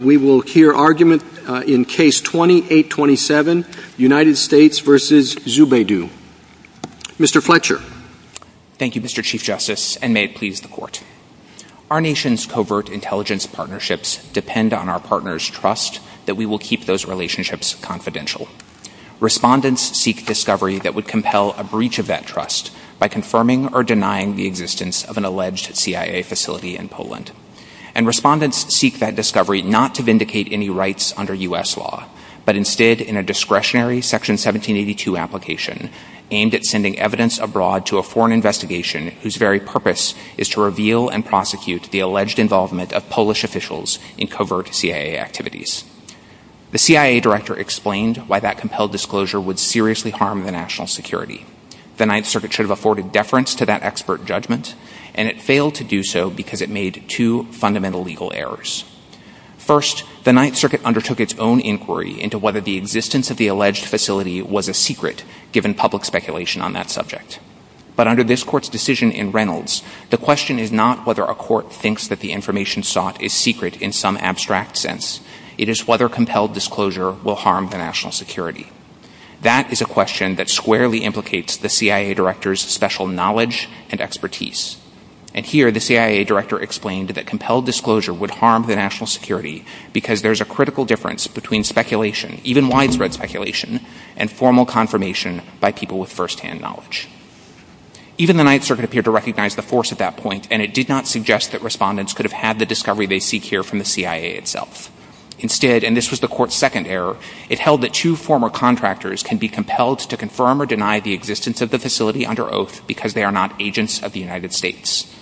We will hear argument in case 2827, United States v. Zubaydah. Mr. Fletcher. Thank you, Mr. Chief Justice, and may it please the Court. Our nation's covert intelligence partnerships depend on our partners' trust that we will keep those relationships confidential. Respondents seek discovery that would compel a breach of that trust by confirming or denying the existence of an alleged CIA facility in Poland. Respondents seek that discovery not to vindicate any rights under U.S. law, but instead in a discretionary Section 1782 application aimed at sending evidence abroad to a foreign investigation whose very purpose is to reveal and prosecute the alleged involvement of Polish officials in covert CIA activities. The CIA Director explained why that compelled disclosure would seriously harm the national security. The Ninth Circuit should have afforded deference to that expert judgment, and it failed to First, the Ninth Circuit undertook its own inquiry into whether the existence of the alleged facility was a secret, given public speculation on that subject. But under this Court's decision in Reynolds, the question is not whether a court thinks that the information sought is secret in some abstract sense, it is whether compelled disclosure will harm the national security. That is a question that squarely implicates the CIA Director's special knowledge and expertise. And here, the CIA Director explained that compelled disclosure would harm the national security because there is a critical difference between speculation, even widespread speculation, and formal confirmation by people with first-hand knowledge. Even the Ninth Circuit appeared to recognize the force at that point, and it did not suggest that respondents could have had the discovery they seek here from the CIA itself. Instead, and this was the Court's second error, it held that two former contractors can be compelled to confirm or deny the existence of the facility under oath because they are not agents of the United States.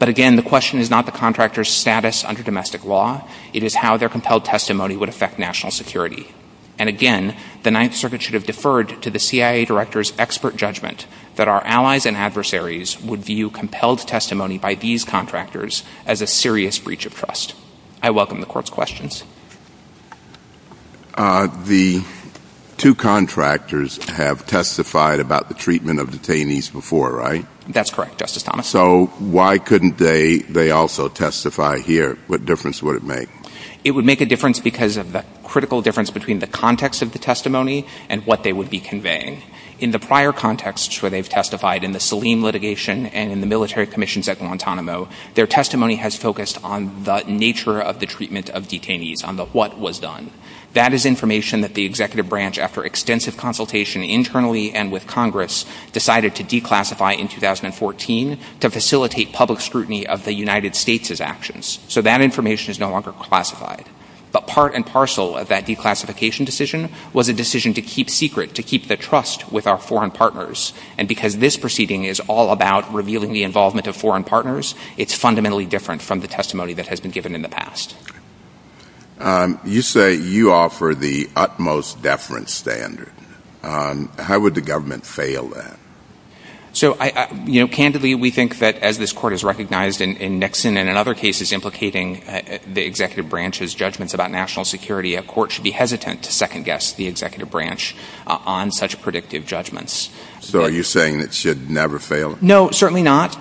But again, the question is not the contractors' status under domestic law, it is how their compelled testimony would affect national security. And again, the Ninth Circuit should have deferred to the CIA Director's expert judgment that our allies and adversaries would view compelled testimony by these contractors as a serious breach of trust. I welcome the Court's questions. The two contractors have testified about the treatment of detainees before, right? That's correct, Justice Thomas. So why couldn't they also testify here? What difference would it make? It would make a difference because of the critical difference between the context of the testimony and what they would be conveying. In the prior contexts where they've testified, in the Saleem litigation and in the military commissions at Guantanamo, their testimony has focused on the nature of the treatment of detainees, on what was done. That is information that the Executive Branch, after extensive consultation internally and with Congress, decided to declassify in 2014 to facilitate public scrutiny of the United States' actions. So that information is no longer classified. But part and parcel of that declassification decision was a decision to keep secret, to keep the trust with our foreign partners. And because this proceeding is all about revealing the involvement of foreign partners, it's You say you offer the utmost deference standard. How would the government fail that? So candidly, we think that as this Court has recognized in Nixon and in other cases implicating the Executive Branch's judgments about national security, a court should be hesitant to second guess the Executive Branch on such predictive judgments. So are you saying it should never fail? No, certainly not,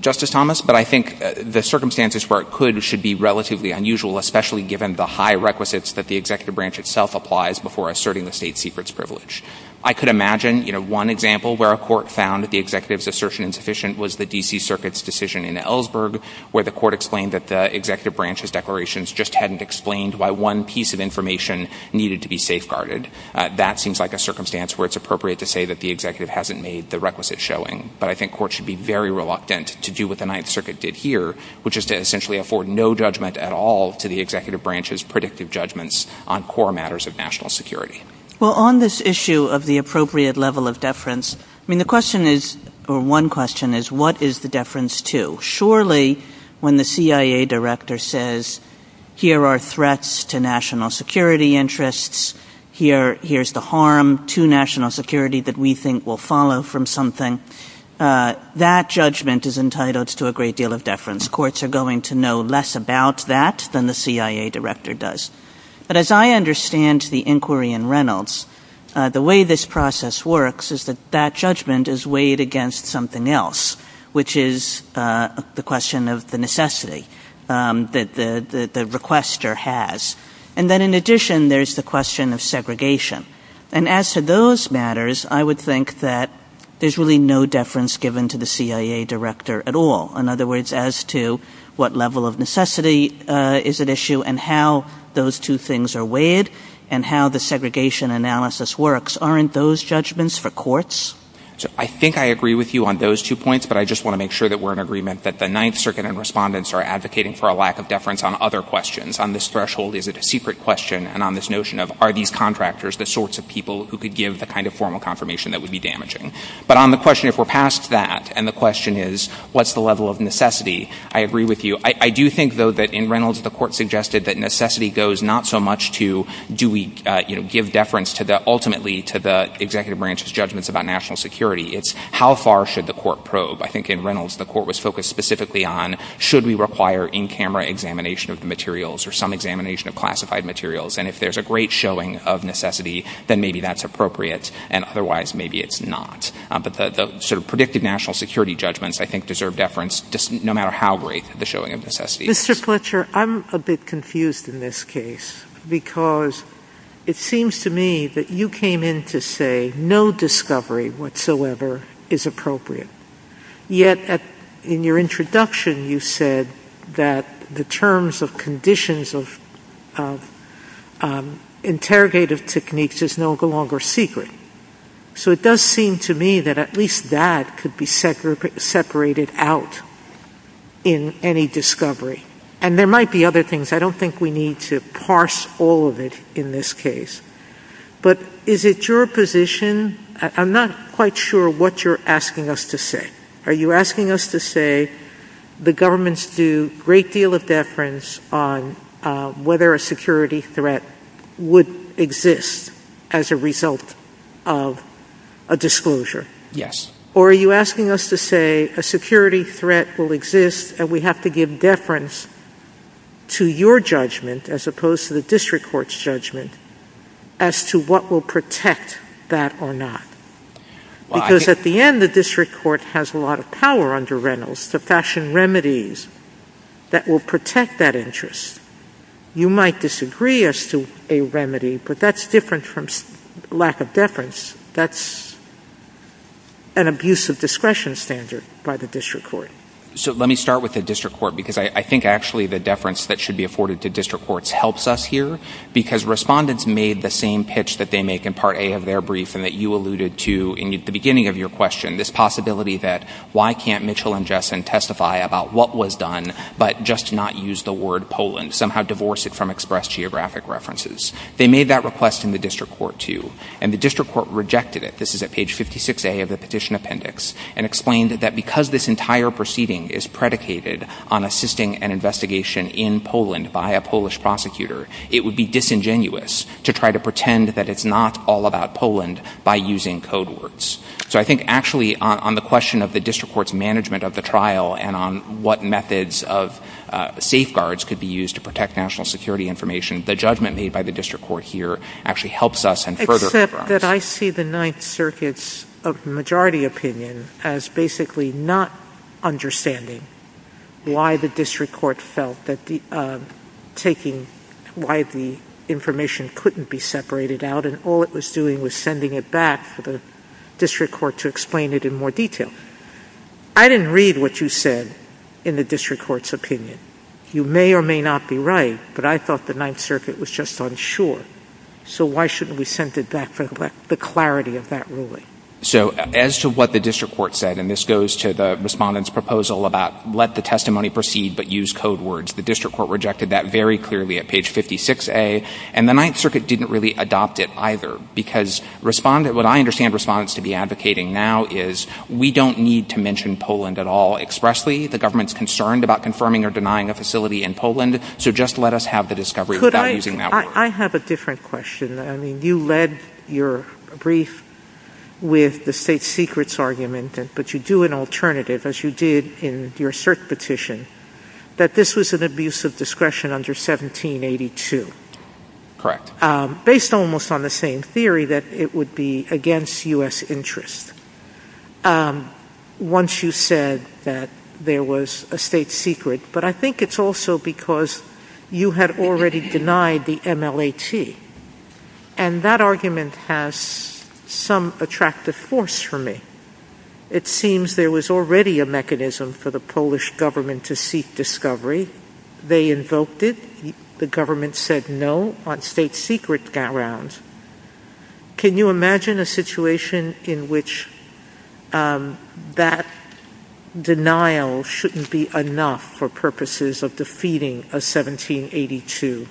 Justice Thomas. But I think the circumstances where it could should be relatively unusual, especially given the high requisites that the Executive Branch itself applies before asserting the state secret's privilege. I could imagine, you know, one example where a court found that the Executive's assertion insufficient was the D.C. Circuit's decision in Ellsberg, where the court explained that the Executive Branch's declarations just hadn't explained why one piece of information needed to be safeguarded. That seems like a circumstance where it's appropriate to say that the Executive hasn't made the requisite showing. But I think courts should be very reluctant to do what the Ninth Circuit did here, which is to essentially afford no judgment at all to the Executive Branch's predictive judgments on core matters of national security. Well, on this issue of the appropriate level of deference, I mean, the question is, or one question is, what is the deference to? Surely when the CIA director says, here are threats to national security interests, here's the harm to national security that we think will follow from something, that judgment is entitled to a great deal of deference. Courts are going to know less about that than the CIA director does. But as I understand the inquiry in Reynolds, the way this process works is that that judgment is weighed against something else, which is the question of the necessity that the requester has. And then in addition, there's the question of segregation. And as to those matters, I would think that there's really no deference given to the CIA director at all. In other words, as to what level of necessity is at issue and how those two things are weighed and how the segregation analysis works, aren't those judgments for courts? I think I agree with you on those two points, but I just want to make sure that we're in agreement that the Ninth Circuit and respondents are advocating for a lack of deference on other questions. On this threshold, is it a secret question? And on this notion of, are these contractors the sorts of people who could give the kind of formal confirmation that would be damaging? But on the question, if we're past that, and the question is, what's the level of necessity? I agree with you. I do think, though, that in Reynolds, the court suggested that necessity goes not so much to do we give deference ultimately to the executive branch's judgments about national security. It's how far should the court probe? I think in Reynolds, the court was focused specifically on, should we require in-camera examination of the materials or some examination of classified materials? And if there's a great showing of necessity, then maybe that's appropriate. And otherwise, maybe it's not. But the sort of predicted national security judgments, I think, deserve deference no matter how great the showing of necessity is. Mr. Fletcher, I'm a bit confused in this case, because it seems to me that you came in to say no discovery whatsoever is appropriate. Yet, in your introduction, you said that the terms of conditions of interrogative techniques is no longer secret. So it does seem to me that at least that could be separated out in any discovery. And there might be other things. I don't think we need to parse all of it in this case. But is it your position? I'm not quite sure what you're asking us to say. Are you asking us to say the governments do a great deal of deference on whether a security threat would exist as a result of a disclosure? Yes. Or are you asking us to say a security threat will exist and we have to give deference to your judgment as opposed to the district court's judgment as to what will protect that or not? Because at the end, the district court has a lot of power under Reynolds to fashion remedies that will protect that interest. You might disagree as to a remedy, but that's different from lack of deference. That's an abuse of discretion standard by the district court. So let me start with the district court because I think actually the deference that should be afforded to district courts helps us here because respondents made the same pitch that they make in Part A of their brief and that you alluded to in the beginning of your question, this possibility that why can't Mitchell and Jessen testify about what was done but just not use the word Poland, somehow divorce it from express geographic references. They made that request in the district court too. And the district court rejected it. This is at page 56A of the petition appendix and explained that because this entire proceeding is predicated on assisting an investigation in Poland by a Polish prosecutor, it would be disingenuous to try to pretend that it's not all about Poland by using code words. So I think actually on the question of the district court's management of the trial and on what methods of safeguards could be used to protect national security information, the judgment made by the district court here actually helps us in further regards. I see the Ninth Circuit's majority opinion as basically not understanding why the district court felt that taking why the information couldn't be separated out and all it was doing was sending it back for the district court to explain it in more detail. I didn't read what you said in the district court's opinion. You may or may not be right, but I thought the Ninth Circuit was just unsure. So why shouldn't we send it back for the clarity of that ruling? So as to what the district court said, and this goes to the respondent's proposal about let the testimony proceed but use code words, the district court rejected that very clearly at page 56A, and the Ninth Circuit didn't really adopt it either because what I understand respondents to be advocating now is we don't need to mention Poland at all expressly. The government's concerned about confirming or denying a facility in Poland, so just let us have the discovery without using that word. I have a different question. You led your brief with the state secrets argument, but you do an alternative, as you did in your cert petition, that this was an abuse of discretion under 1782. Correct. Based almost on the same theory that it would be against U.S. interests. Once you said that there was a state secret, but I think it's also because you had already denied the MLAT, and that argument has some attractive force for me. It seems there was already a mechanism for the Polish government to seek discovery. They invoked it. The government said no on state secret grounds. Can you imagine a situation in which that denial shouldn't be enough for purposes of defeating a 1782?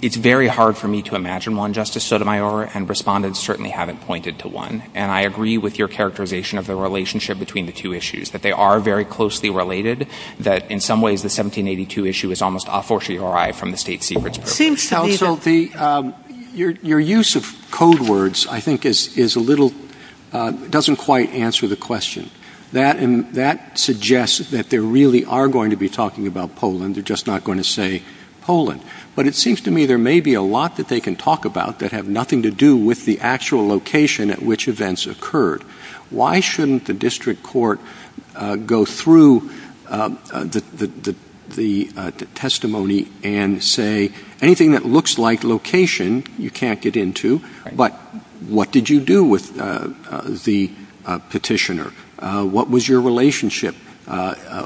It's very hard for me to imagine one, Justice Sotomayor, and respondents certainly haven't pointed to one. I agree with your characterization of the relationship between the two issues, that they are very closely related, that in some ways the 1782 issue is almost a fortiori from the state secrets purpose. Your use of code words, I think, doesn't quite answer the question. That suggests that they really are going to be talking about Poland. They're just not going to say Poland. But it seems to me there may be a lot that they can talk about that have nothing to do with the actual location at which events occurred. Why shouldn't the district court go through the testimony and say anything that looks like location you can't get into, but what did you do with the petitioner? What was your relationship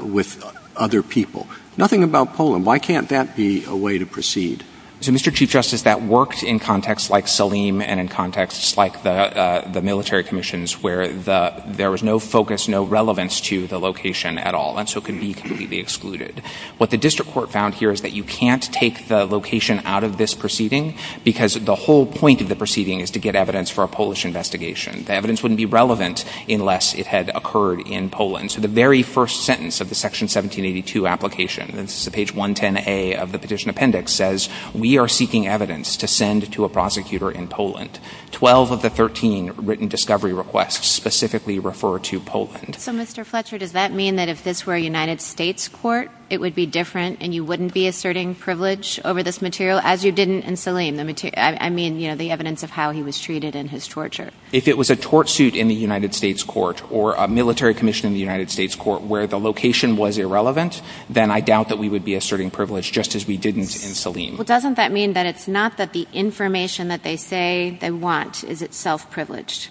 with other people? Nothing about Poland. Why can't that be a way to proceed? So, Mr. Chief Justice, that works in contexts like Saleem and in contexts like the military commissions where there was no focus, no relevance to the location at all. And so it can be completely excluded. What the district court found here is that you can't take the location out of this proceeding because the whole point of the proceeding is to get evidence for a Polish investigation. The evidence wouldn't be relevant unless it had occurred in Poland. So the very first sentence of the Section 1782 application, page 110A of the petition appendix says, we are seeking evidence to send to a prosecutor in Poland. Twelve of the thirteen written discovery requests specifically refer to Poland. So, Mr. Fletcher, does that mean that if this were a United States court, it would be different and you wouldn't be asserting privilege over this material, as you didn't in Saleem? I mean, you know, the evidence of how he was treated and his torture. If it was a tort suit in the United States court or a military commission in the United States court where the location was irrelevant, then I doubt that we would be asserting privilege just as we didn't in Saleem. Well, doesn't that mean that it's not that the information that they say they want is itself privileged?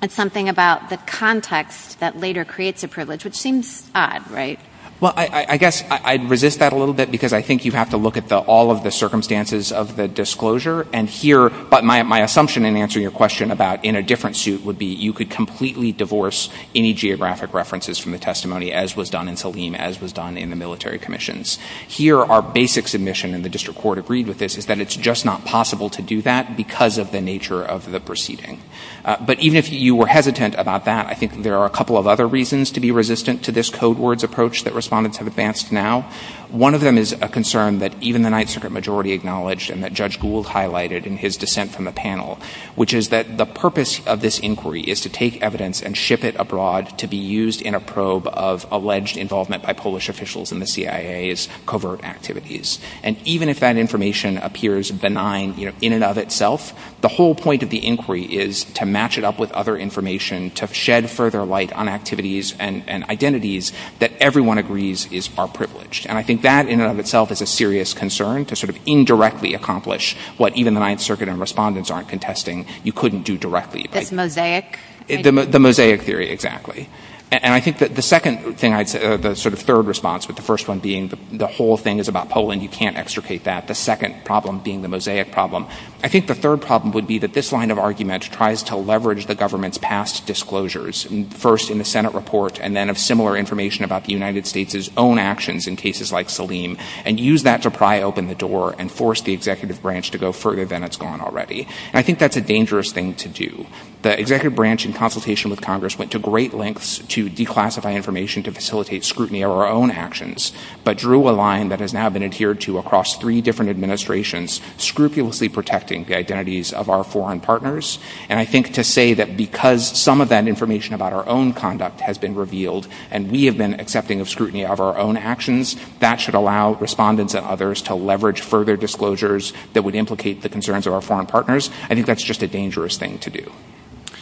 It's something about the context that later creates a privilege, which seems odd, right? Well, I guess I'd resist that a little bit because I think you have to look at all of the circumstances of the disclosure. And here, my assumption in answering your question about in a different suit would be you could completely divorce any geographic references from the testimony, as was done in Saleem, as was done in the military commissions. Here, our basic submission, and the district court agreed with this, is that it's just not possible to do that because of the nature of the proceeding. But even if you were hesitant about that, I think there are a couple of other reasons to be resistant to this code words approach that respondents have advanced now. One of them is a concern that even the Ninth Circuit majority acknowledged and that Judge Gould highlighted in his dissent from the panel, which is that the purpose of this inquiry is to take evidence and ship it abroad to be used in a probe of alleged involvement by Polish officials in the CIA's covert activities. And even if that information appears benign in and of itself, the whole point of the inquiry is to match it up with other information to shed further light on activities and identities that everyone agrees are privileged. And I think that in and of itself is a serious concern to sort of indirectly accomplish what even the Ninth Circuit and respondents aren't contesting you couldn't do directly. That's mosaic? The mosaic theory, exactly. And I think that the second thing, the sort of third response with the first one being the whole thing is about Poland, you can't extricate that. The second problem being the mosaic problem. I think the third problem would be that this line of argument tries to leverage the government's past disclosures, first in the Senate report and then of similar information about the United States' own actions in cases like Salim, and use that to pry open the door and force the executive branch to go further than it's gone already. And I think that's a dangerous thing to do. The executive branch in consultation with Congress went to great lengths to declassify information to facilitate scrutiny of our own actions, but drew a line that has now been adhered to across three different administrations, scrupulously protecting the identities of our foreign partners. And I think to say that because some of that information about our own conduct has been revealed and we have been accepting of scrutiny of our own actions, that should allow respondents and others to leverage further disclosures that would implicate the concerns of our foreign partners. I think that's just a dangerous thing to do.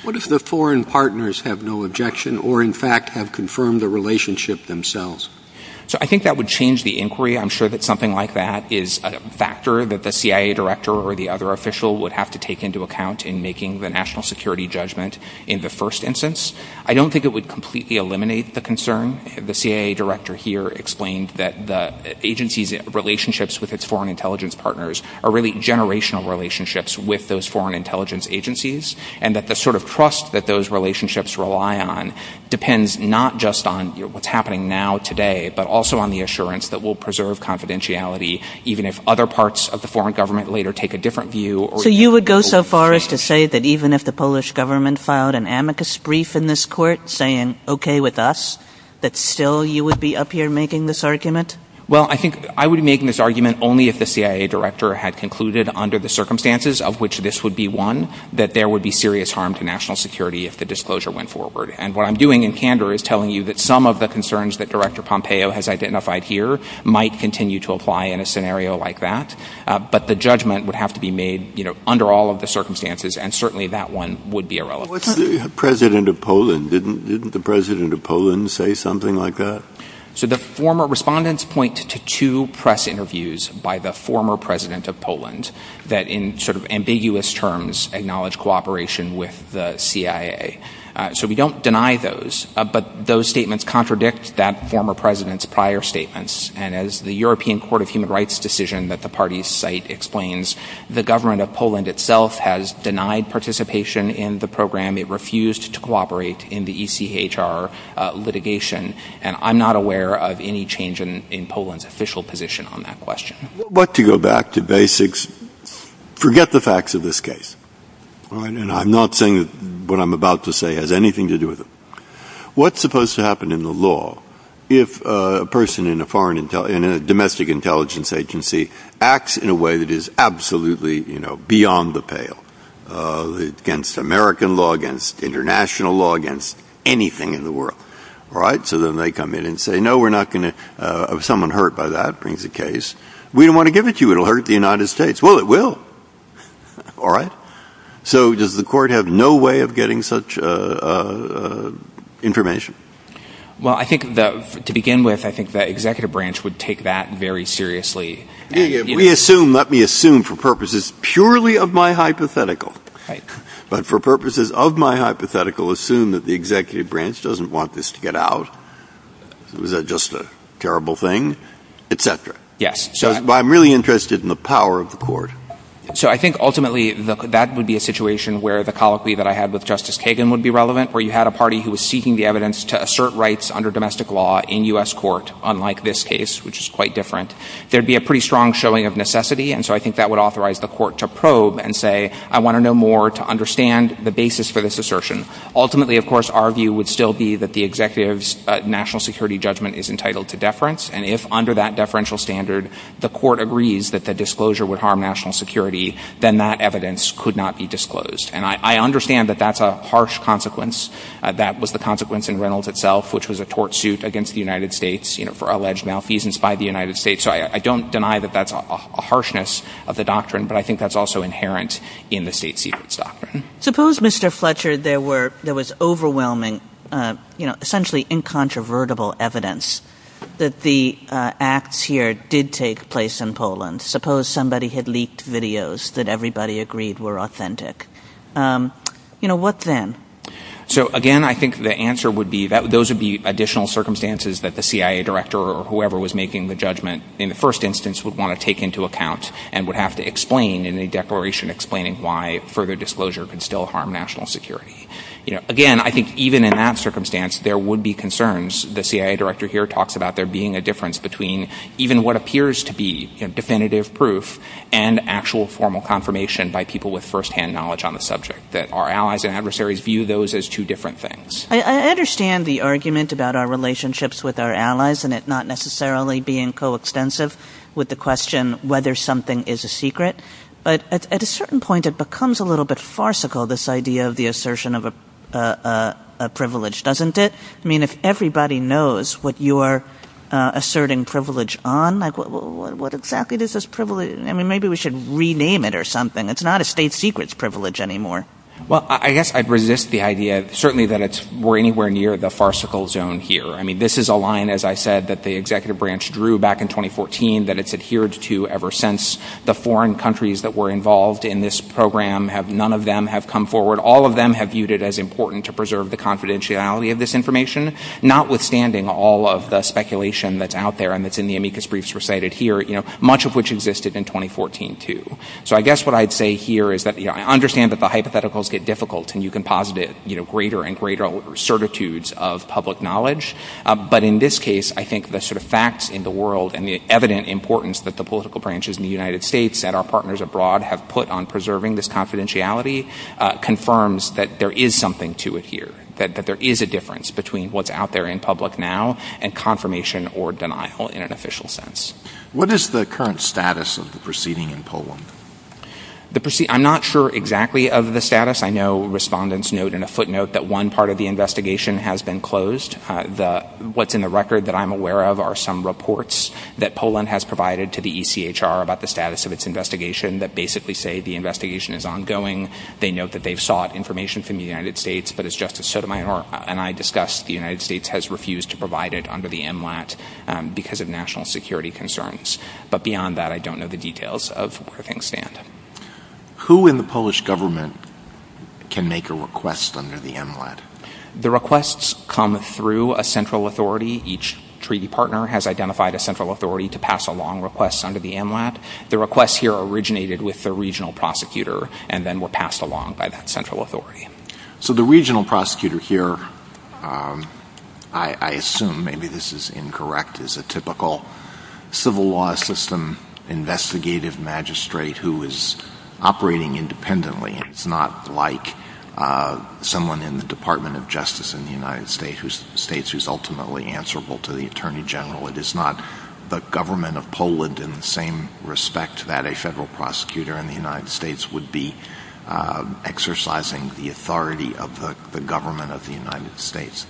What if the foreign partners have no objection or in fact have confirmed the relationship themselves? So I think that would change the inquiry. I'm sure that something like that is a factor that the CIA director or the other official would have to take into account in making the national security judgment in the first instance. I don't think it would completely eliminate the concern. The CIA director here explained that the agency's relationships with its foreign intelligence partners are really generational relationships with those foreign intelligence agencies, and that the sort of trust that those relationships rely on depends not just on what's happening now today, but also on the assurance that we'll preserve confidentiality even if other parts of the foreign government later take a different view. So you would go so far as to say that even if the Polish government filed an amicus brief in this court saying okay with us, that still you would be up here making this argument? Well, I think I would be making this argument only if the CIA director had concluded under the circumstances of which this would be one that there would be serious harm to national security if the disclosure went forward. And what I'm doing in candor is telling you that some of the concerns that Director Pompeo has identified here might continue to apply in a scenario like that. But the judgment would have to be made under all of the circumstances, and certainly that one would be irrelevant. Didn't the president of Poland say something like that? So the former respondents point to two press interviews by the former president of Poland that in sort of ambiguous terms acknowledge cooperation with the CIA. So we don't deny those. But those statements contradict that former president's prior statements. And as the European Court of Human Rights decision that the parties cite explains, the government of Poland itself has denied participation in the program. It refused to cooperate in the ECHR litigation. And I'm not aware of any change in Poland's official position on that question. But to go back to basics, forget the facts of this case. And I'm not saying that what I'm about to say has anything to do with it. What's supposed to happen in the law if a person in a domestic intelligence agency acts in a way that is absolutely beyond the pale against American law, against international law, against anything in the world? All right. So then they come in and say, no, we're not going to have someone hurt by that brings a case. We don't want to give it to you. It'll hurt the United States. Well, it will. All right. So does the court have no way of getting such information? Well, I think that to begin with, I think the executive branch would take that very seriously. If we assume, let me assume for purposes purely of my hypothetical. But for purposes of my hypothetical, assume that the executive branch doesn't want this to get out. Is that just a terrible thing? Et cetera. Yes. So I'm really interested in the power of the court. So I think ultimately that would be a situation where the colloquy that I had with Justice Kagan would be relevant, where you had a party who was seeking the evidence to assert rights under domestic law in U.S. court, unlike this case, which is quite different. There'd be a pretty strong showing of necessity. And so I think that would authorize the court to probe and say, I want to know more to understand the basis for this assertion. Ultimately, of course, our view would still be that the executive's national security judgment is entitled to deference. And if under that deferential standard, the court agrees that the disclosure would harm national security, then that evidence could not be disclosed. And I understand that that's a harsh consequence. That was the consequence in Reynolds itself, which was a tort suit against the United States for alleged malfeasance by the United States. So I don't deny that that's a harshness of the doctrine, but I think that's also inherent in the state secrets doctrine. Suppose, Mr. Fletcher, there was overwhelming, essentially incontrovertible evidence that the acts here did take place in Poland. Suppose somebody had leaked videos that everybody agreed were authentic. What then? So again, I think the answer would be those would be additional circumstances that the first instance would want to take into account and would have to explain in the declaration explaining why further disclosure could still harm national security. Again, I think even in that circumstance, there would be concerns. The CIA director here talks about there being a difference between even what appears to be definitive proof and actual formal confirmation by people with firsthand knowledge on the subject, that our allies and adversaries view those as two different things. I understand the argument about our relationships with our allies and it not necessarily being so extensive with the question whether something is a secret. But at a certain point, it becomes a little bit farcical, this idea of the assertion of a privilege, doesn't it? I mean, if everybody knows what you're asserting privilege on, what exactly is this privilege? I mean, maybe we should rename it or something. It's not a state secrets privilege anymore. Well, I guess I'd resist the idea certainly that it's anywhere near the farcical zone here. I mean, this is a line, as I said, that the executive branch drew back in 2014 that it's adhered to ever since. The foreign countries that were involved in this program, none of them have come forward. All of them have viewed it as important to preserve the confidentiality of this information, notwithstanding all of the speculation that's out there and that's in the amicus briefs recited here, much of which existed in 2014 too. So I guess what I'd say here is that I understand that the hypotheticals get difficult and you know, greater and greater certitudes of public knowledge. But in this case, I think the sort of facts in the world and the evident importance that the political branches in the United States and our partners abroad have put on preserving this confidentiality confirms that there is something to it here, that there is a difference between what's out there in public now and confirmation or denial in an official sense. What is the current status of the proceeding in Poland? I'm not sure exactly of the status. I know respondents note in a footnote that one part of the investigation has been closed. What's in the record that I'm aware of are some reports that Poland has provided to the ECHR about the status of its investigation that basically say the investigation is ongoing. They note that they've sought information from the United States, but as Justice Sotomayor and I discussed, the United States has refused to provide it under the MLAT because of national security concerns. But beyond that, I don't know the details of where things stand. Who in the Polish government can make a request under the MLAT? The requests come through a central authority. Each treaty partner has identified a central authority to pass along requests under the MLAT. The requests here originated with the regional prosecutor and then were passed along by that central authority. So the regional prosecutor here, I assume, maybe this is incorrect, is a typical civil law system investigative magistrate who is operating independently. It's not like someone in the Department of Justice in the United States who's ultimately answerable to the Attorney General. It is not the government of Poland in the same respect that a federal prosecutor in the United States would be exercising the authority of the government of the United States.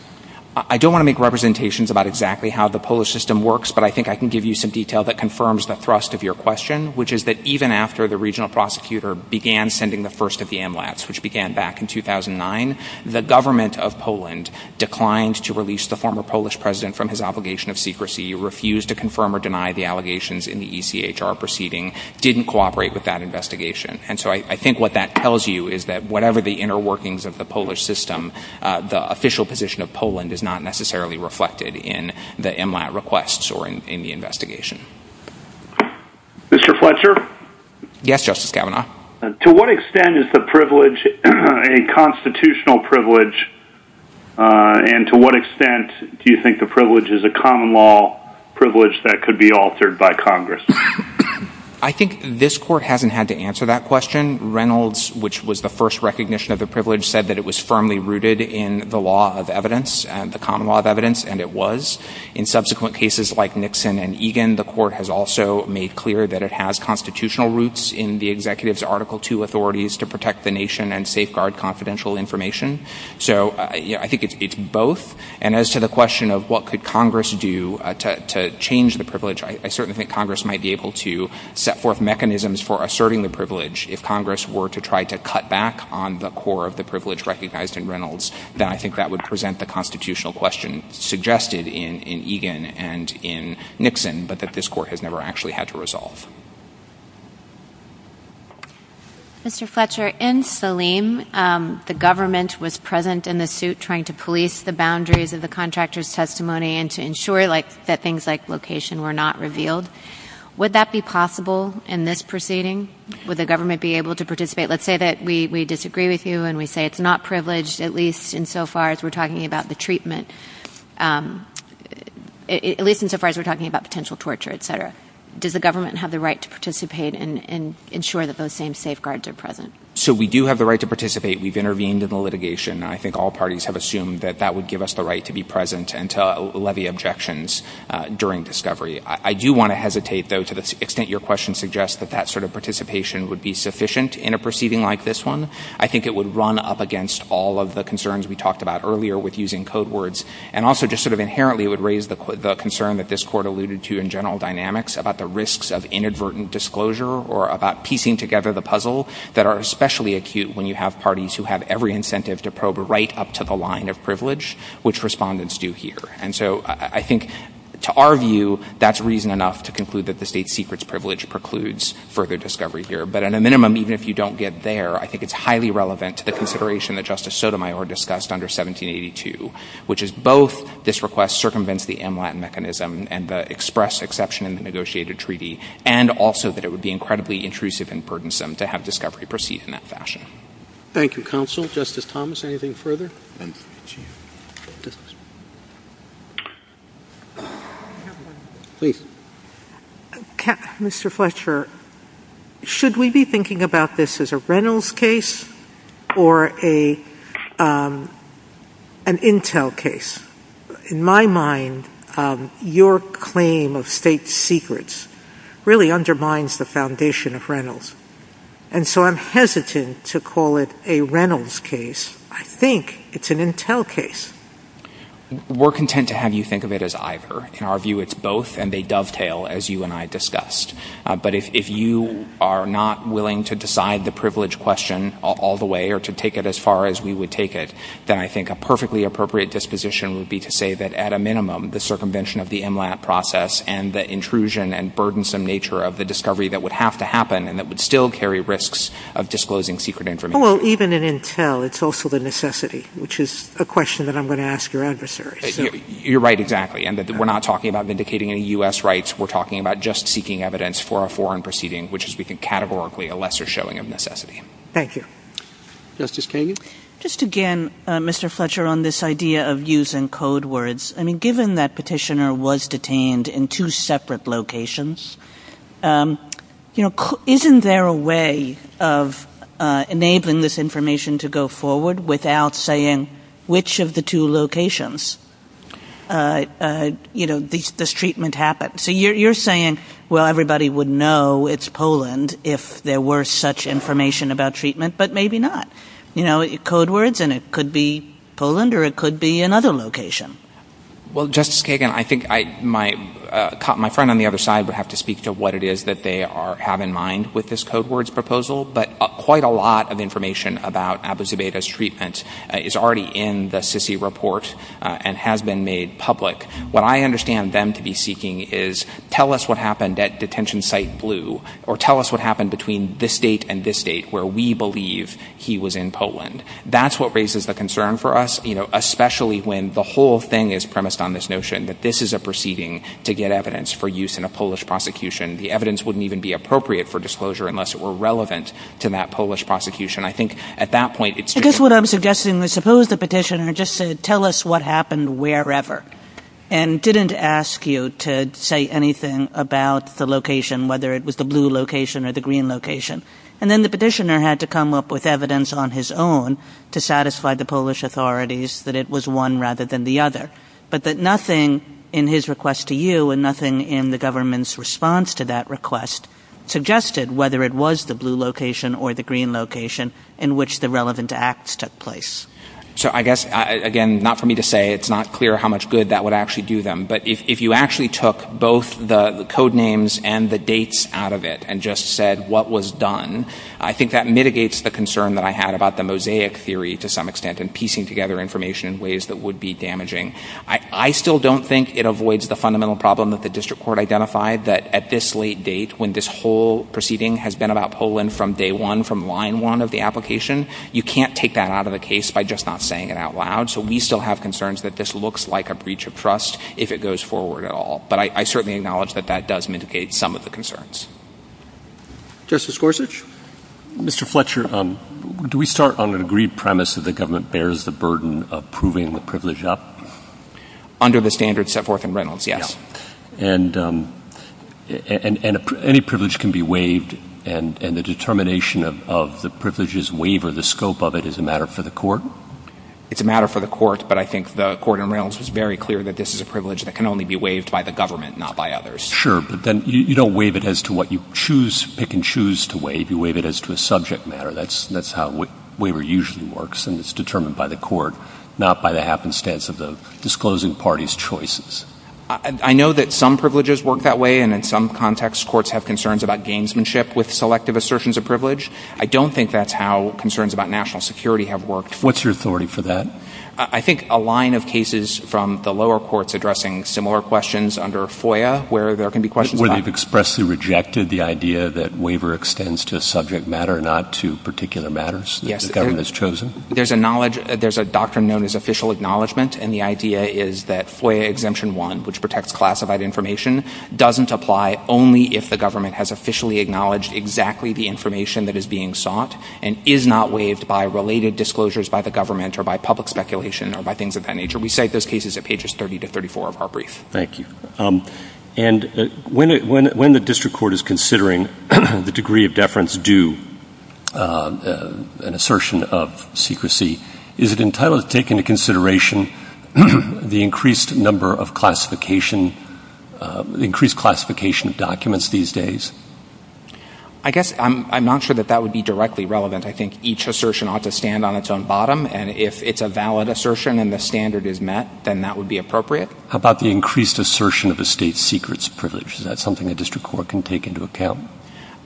I don't want to make representations about exactly how the Polish system works, but I think I can give you some detail that confirms the thrust of your question, which is that even after the regional prosecutor began sending the first of the MLATs, which began back in 2009, the government of Poland declined to release the former Polish president from his obligation of secrecy, refused to confirm or deny the allegations in the ECHR proceeding, didn't cooperate with that investigation. And so I think what that tells you is that whatever the inner workings of the Polish system, the official position of Poland is not necessarily reflected in the MLAT requests or in the investigation. Mr. Fletcher? Yes, Justice Kavanaugh. To what extent is the privilege a constitutional privilege, and to what extent do you think the privilege is a common law privilege that could be altered by Congress? I think this court hasn't had to answer that question. Reynolds, which was the first recognition of the privilege, said that it was firmly rooted in the law of evidence, the common law of evidence, and it was. In subsequent cases like Nixon and Egan, the court has also made clear that it has constitutional roots in the executive's Article II authorities to protect the nation and safeguard confidential information. So I think it's both. And as to the question of what could Congress do to change the privilege, I certainly think Congress might be able to set forth mechanisms for asserting the privilege. If Congress were to try to cut back on the core of the privilege recognized in Reynolds, then I think that would present the constitutional question suggested in Egan and in Nixon, but that this court has never actually had to resolve. Mr. Fletcher, in Saleem, the government was present in the suit trying to police the boundaries of the contractor's testimony and to ensure that things like location were not revealed. Would that be possible in this proceeding? Would the government be able to participate? Let's say that we disagree with you and we say it's not privileged, at least insofar as we're talking about the treatment, at least insofar as we're talking about potential torture, et cetera. Does the government have the right to participate and ensure that those same safeguards are present? So we do have the right to participate. We've intervened in the litigation. I think all parties have assumed that that would give us the right to be present and to levy objections during discovery. I do want to hesitate, though, to the extent your question suggests that that sort of participation would be sufficient in a proceeding like this one. I think it would run up against all of the concerns we talked about earlier with using code words and also just sort of inherently would raise the concern that this court alluded to in general dynamics about the risks of inadvertent disclosure or about piecing together the puzzle that are especially acute when you have parties who have every incentive to probe right up to the line of privilege, which respondents do here. And so I think, to our view, that's reason enough to conclude that the state secret's privilege precludes further discovery here. But at a minimum, even if you don't get there, I think it's highly relevant to the consideration that Justice Sotomayor discussed under 1782, which is both this request circumvents the in-line mechanism and the express exception in the negotiated treaty and also that it would be incredibly intrusive and burdensome to have discovery proceed in that fashion. Thank you, counsel. Justice Thomas, anything further? Please. Mr. Fletcher, should we be thinking about this as a Reynolds case or an Intel case? In my mind, your claim of state secrets really undermines the foundation of Reynolds. And so I'm hesitant to call it a Reynolds case. I think it's an Intel case. We're content to have you think of it as either. In our view, it's both, and they dovetail, as you and I discussed. But if you are not willing to decide the privilege question all the way or to take it as far as we would take it, then I think a perfectly appropriate disposition would be to say that, at a minimum, the circumvention of the MLAT process and the intrusion and burdensome nature of the discovery that would have to happen and that would still carry risks of disclosing secret information. Oh, well, even in Intel, it's also the necessity, which is a question that I'm going to ask your adversary. You're right, exactly. We're not talking about vindicating any U.S. rights. We're talking about just seeking evidence for a foreign proceeding, which is, we think, categorically a lesser showing of necessity. Thank you. Justice Kagan? Just again, Mr. Fletcher, on this idea of using code words, I mean, given that Petitioner was detained in two separate locations, you know, isn't there a way of enabling this information to go forward without saying which of the two locations, you know, this treatment happened? So you're saying, well, everybody would know it's Poland if there were such information about treatment, but maybe not. You know, code words, and it could be Poland or it could be another location. Well, Justice Kagan, I think my friend on the other side would have to speak to what it is that they have in mind with this code words proposal, but quite a lot of information about Abu Zubaydah's treatment is already in the SISI report and has been made public. What I understand them to be seeking is tell us what happened at detention site blue or tell us what happened between this date and this date, where we believe he was in Poland. That's what raises the concern for us, you know, the whole thing is premised on this notion that this is a proceeding to get evidence for use in a Polish prosecution. The evidence wouldn't even be appropriate for disclosure unless it were relevant to that Polish prosecution. I think at that point... I guess what I'm suggesting is suppose the Petitioner just said, tell us what happened wherever, and didn't ask you to say anything about the location, whether it was the blue location or the green location. And then the Petitioner had to come up with evidence on his own to satisfy the Polish authorities that it was one rather than the other. But that nothing in his request to you and nothing in the government's response to that request suggested whether it was the blue location or the green location in which the relevant acts took place. So I guess, again, not for me to say, it's not clear how much good that would actually do them, but if you actually took both the code names and the dates out of it and just said what was done, I think that mitigates the concern that I had about the mosaic theory to some extent and piecing together information in ways that would be damaging. I still don't think it avoids the fundamental problem that the District Court identified that at this late date, when this whole proceeding has been about Poland from day one, from line one of the application, you can't take that out of the case by just not saying it out loud. So we still have concerns that this looks like a breach of trust if it goes forward at all. But I certainly acknowledge that that does mitigate some of the concerns. Justice Gorsuch? Mr. Fletcher, do we start on an agreed premise that the government bears the burden of proving the privilege up? Under the standards set forth in Reynolds, yes. And any privilege can be waived, and the determination of the privilege's waiver, the scope of it, is a matter for the court? It's a matter for the court, but I think the court in Reynolds is very clear that this is a privilege that can only be waived by the government, not by others. Sure, but then you don't waive it as to what you pick and choose to waive. You waive it as to a subject matter. That's how waiver usually works, and it's determined by the court, not by the happenstance of the disclosing party's choices. I know that some privileges work that way, and in some contexts courts have concerns about gamesmanship with selective assertions of privilege. I don't think that's how concerns about national security have worked. What's your authority for that? I think a line of cases from the lower courts addressing similar questions under FOIA where there can be questions about Where they've expressly rejected the idea that waiver extends to a subject matter and not to particular matters that the government has chosen? There's a doctrine known as official acknowledgment, and the idea is that FOIA Exemption 1, which protects classified information, doesn't apply only if the government has officially acknowledged exactly the information that is being sought and is not waived by related disclosures by the government or by public speculation or by things of that nature. We cite those cases at pages 30 to 34 of our brief. Thank you. And when the district court is considering the degree of deference due an assertion of secrecy, is it entitled to take into consideration the increased number of classification, the increased classification of documents these days? I guess I'm not sure that that would be directly relevant. I think each assertion ought to stand on its own bottom, and if it's a valid assertion and the standard is met, then that would be appropriate. How about the increased assertion of the state's secrets of privilege? Is that something the district court can take into account?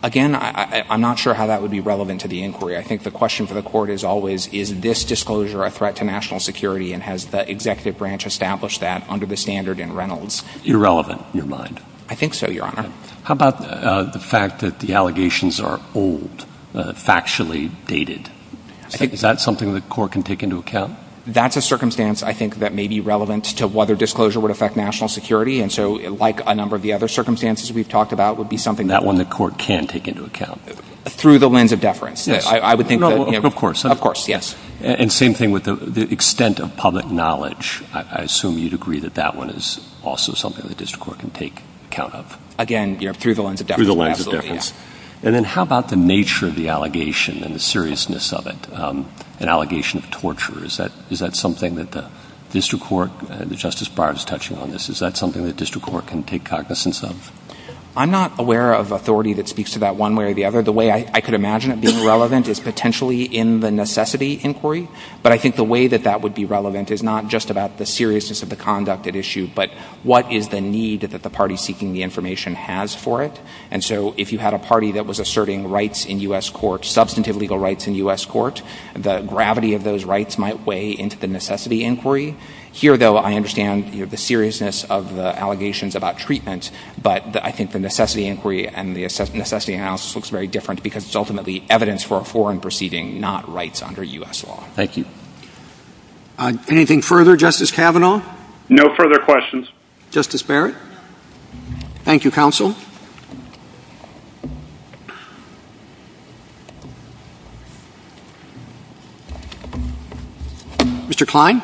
Again, I'm not sure how that would be relevant to the inquiry. I think the question for the court is always, is this disclosure a threat to national security, and has the executive branch established that under the standard in Reynolds? Irrelevant, in your mind? I think so, Your Honor. How about the fact that the allegations are old, factually dated? Is that something the court can take into account? That's a circumstance, I think, that may be relevant to whether disclosure would affect national security, and so, like a number of the other circumstances we've talked about, would be something that the court can take into account. Through the lens of deference. Of course. And same thing with the extent of public knowledge. I assume you'd agree that that one is also something the district court can take account of. Again, through the lens of deference. And then how about the nature of the allegation and the seriousness of it? An allegation of torture. Is that something that the district court, and Justice Barnes touching on this, is that something the district court can take cognizance of? I'm not aware of authority that speaks to that one way or the other. The way I could imagine it being relevant is potentially in the necessity inquiry, but I think the way that that would be relevant is not just about the seriousness of the conduct at issue, but what is the need that the party seeking the information has for it. And so if you had a party that was asserting rights in U.S. courts, substantive legal rights in U.S. courts, the gravity of those rights might weigh into the necessity inquiry. Here, though, I understand the seriousness of the allegations about treatment, but I think the necessity inquiry and the necessity analysis looks very different because it's ultimately evidence for a foreign proceeding, not rights under U.S. law. Thank you. Anything further, Justice Kavanaugh? No further questions. Justice Barrett? Thank you, counsel. Mr. Klein?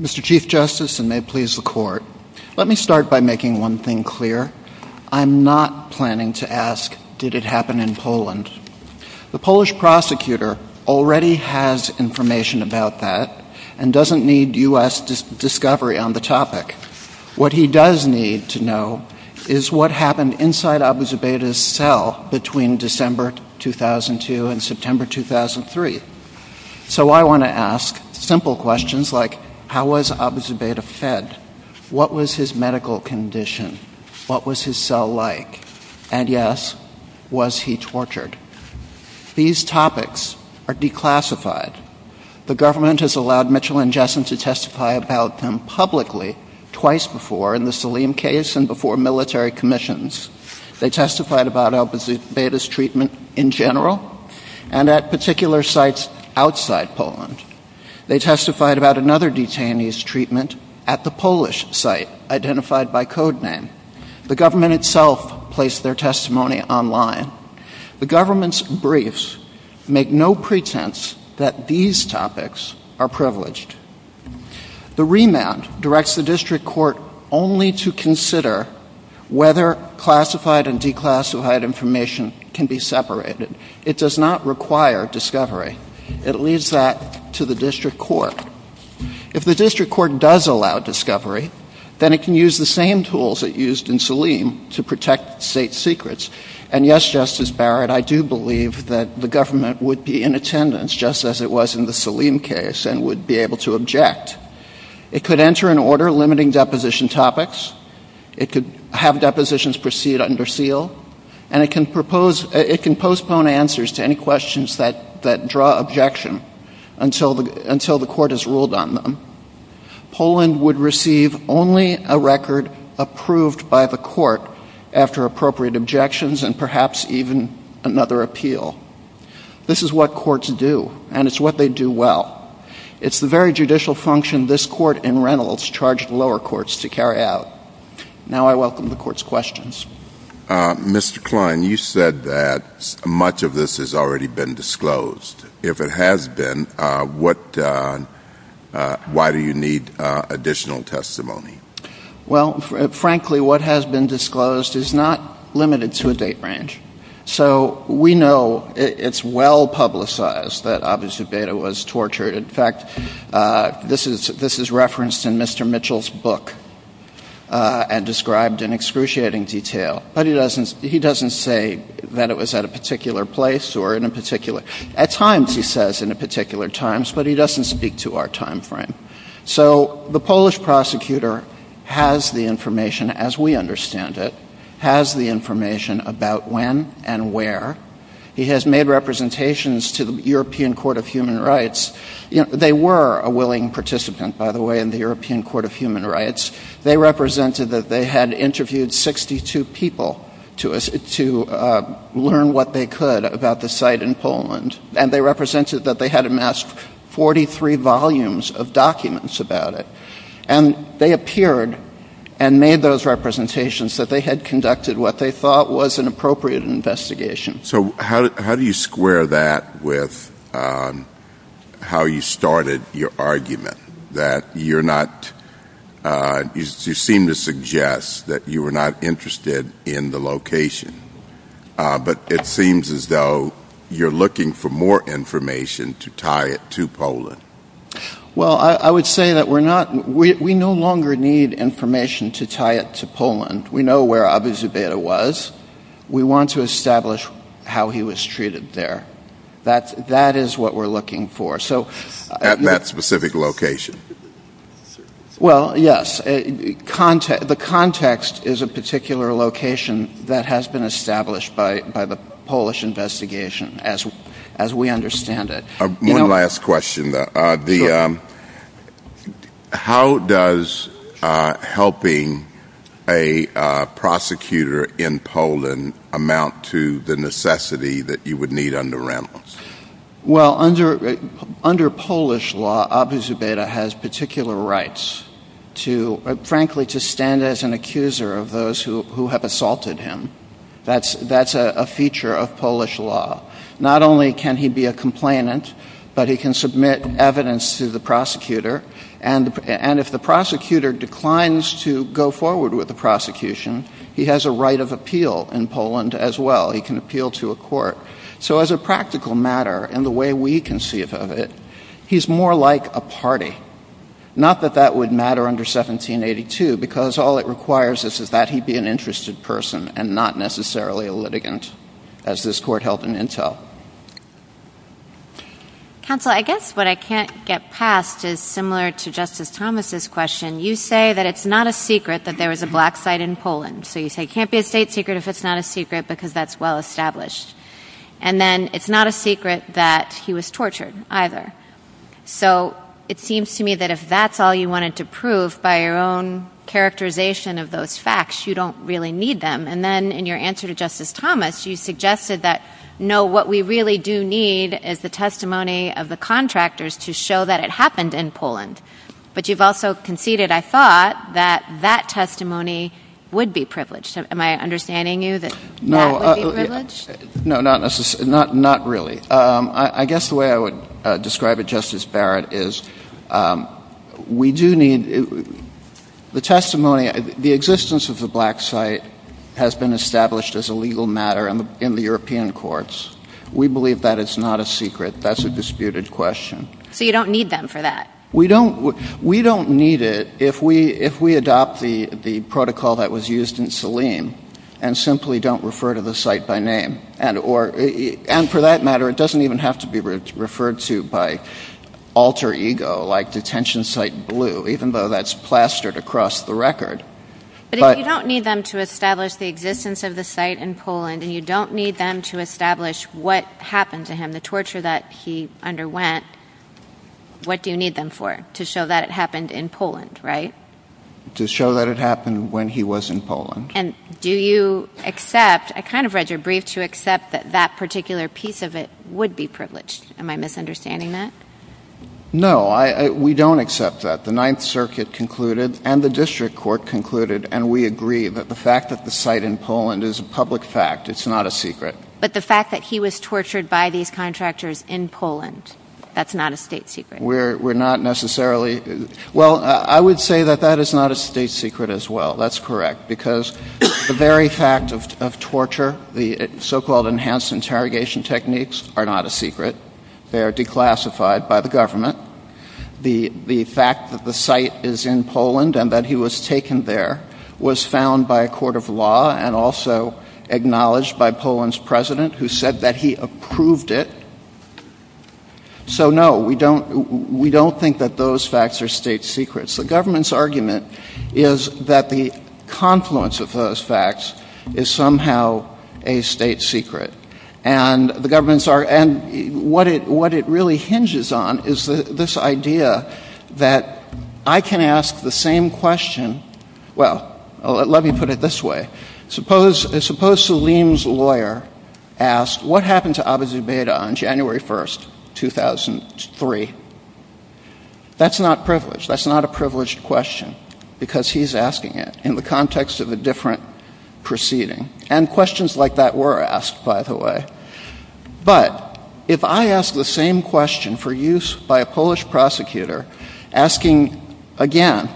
Mr. Chief Justice, and may it please the Court, let me start by making one thing clear. I'm not planning to ask did it happen in Poland. The Polish prosecutor already has information about that and doesn't need U.S. discovery on the topic. What he does need to know is what happened inside Abu Zubaydah's cell between December 2002 and September 2003. So I want to ask simple questions like how was Abu Zubaydah fed? What was his medical condition? What was his cell like? And, yes, was he tortured? These topics are declassified. The government has allowed Mitchell and Jessen to testify about them publicly twice before, in the Saleem case and before military commissions. They testified about Abu Zubaydah's treatment in general and at particular sites outside Poland. They testified about another detainee's treatment at the Polish site identified by codename. The government itself placed their testimony online. The government's briefs make no pretense that these topics are privileged. The remand directs the district court only to consider whether classified and declassified information can be separated. It does not require discovery. It leaves that to the district court. If the district court does allow discovery, then it can use the same tools it used in Saleem to protect state secrets. And, yes, Justice Barrett, I do believe that the government would be in attendance just as it was in the Saleem case and would be able to object. It could enter an order limiting deposition topics. It could have depositions proceed under seal. And it can postpone answers to any questions that draw objection until the court has ruled on them. Poland would receive only a record approved by the court after appropriate objections and perhaps even another appeal. This is what courts do, and it's what they do well. It's the very judicial function this court in Reynolds charged lower courts to carry out. Now I welcome the court's questions. Mr. Klein, you said that much of this has already been disclosed. If it has been, why do you need additional testimony? Well, frankly, what has been disclosed is not limited to a date range. So we know it's well publicized that obviously Beda was tortured. In fact, this is referenced in Mr. Mitchell's book and described in excruciating detail. But he doesn't say that it was at a particular place or in a particular – at times he says in a particular time, but he doesn't speak to our time frame. So the Polish prosecutor has the information, as we understand it, has the information about when and where. He has made representations to the European Court of Human Rights. They were a willing participant, by the way, in the European Court of Human Rights. They represented that they had interviewed 62 people to learn what they could about the site in Poland, and they represented that they had amassed 43 volumes of documents about it. And they appeared and made those representations that they had conducted what they thought was an appropriate investigation. So how do you square that with how you started your argument that you're not – you seem to suggest that you were not interested in the location, but it seems as though you're looking for more information to tie it to Poland? Well, I would say that we're not – we no longer need information to tie it to Poland. We know where Obyzbeta was. We want to establish how he was treated there. That is what we're looking for. At that specific location? Well, yes. The context is a particular location that has been established by the Polish investigation, as we understand it. One last question. How does helping a prosecutor in Poland amount to the necessity that you would need under Ramos? Well, under Polish law, Obyzbeta has particular rights to, frankly, to stand as an accuser of those who have assaulted him. That's a feature of Polish law. Not only can he be a complainant, but he can submit evidence to the prosecutor, and if the prosecutor declines to go forward with the prosecution, he has a right of appeal in Poland as well. He can appeal to a court. So as a practical matter, in the way we conceive of it, he's more like a party. Not that that would matter under 1782, because all it requires is that he be an interested person and not necessarily a litigant, as this court held in Intel. Counsel, I guess what I can't get past is similar to Justice Thomas' question. You say that it's not a secret that there was a black site in Poland. So you say it can't be a state secret if it's not a secret, because that's well established. And then it's not a secret that he was tortured either. So it seems to me that if that's all you wanted to prove, by your own characterization of those facts, you don't really need them. And then in your answer to Justice Thomas, you suggested that, no, what we really do need is the testimony of the contractors to show that it happened in Poland. But you've also conceded, I thought, that that testimony would be privileged. Am I understanding you that that would be privileged? No, not really. I guess the way I would describe it, Justice Barrett, is we do need the testimony. The existence of the black site has been established as a legal matter in the European courts. We believe that it's not a secret. That's a disputed question. So you don't need them for that? We don't need it if we adopt the protocol that was used in Salim and simply don't refer to the site by name. And for that matter, it doesn't even have to be referred to by alter ego, like detention site blue, even though that's plastered across the record. But if you don't need them to establish the existence of the site in Poland and you don't need them to establish what happened to him, the torture that he underwent, what do you need them for? To show that it happened in Poland, right? To show that it happened when he was in Poland. And do you accept, I kind of read your brief, to accept that that particular piece of it would be privileged? Am I misunderstanding that? No, we don't accept that. The Ninth Circuit concluded and the District Court concluded, and we agree, that the fact that the site in Poland is a public fact, it's not a secret. But the fact that he was tortured by these contractors in Poland, that's not a state secret? We're not necessarily, well, I would say that that is not a state secret as well. That's correct. Because the very fact of torture, the so-called enhanced interrogation techniques are not a secret. They are declassified by the government. The fact that the site is in Poland and that he was taken there was found by a court of law and also acknowledged by Poland's president, who said that he approved it. So, no, we don't think that those facts are state secrets. The government's argument is that the confluence of those facts is somehow a state secret. And the government's argument, and what it really hinges on is this idea that I can ask the same question, well, let me put it this way. Suppose Salim's lawyer asked, what happened to Abu Zubaydah on January 1, 2003? That's not privileged. That's not a privileged question because he's asking it in the context of a different proceeding. And questions like that were asked, by the way. But if I ask the same question for use by a Polish prosecutor, asking again,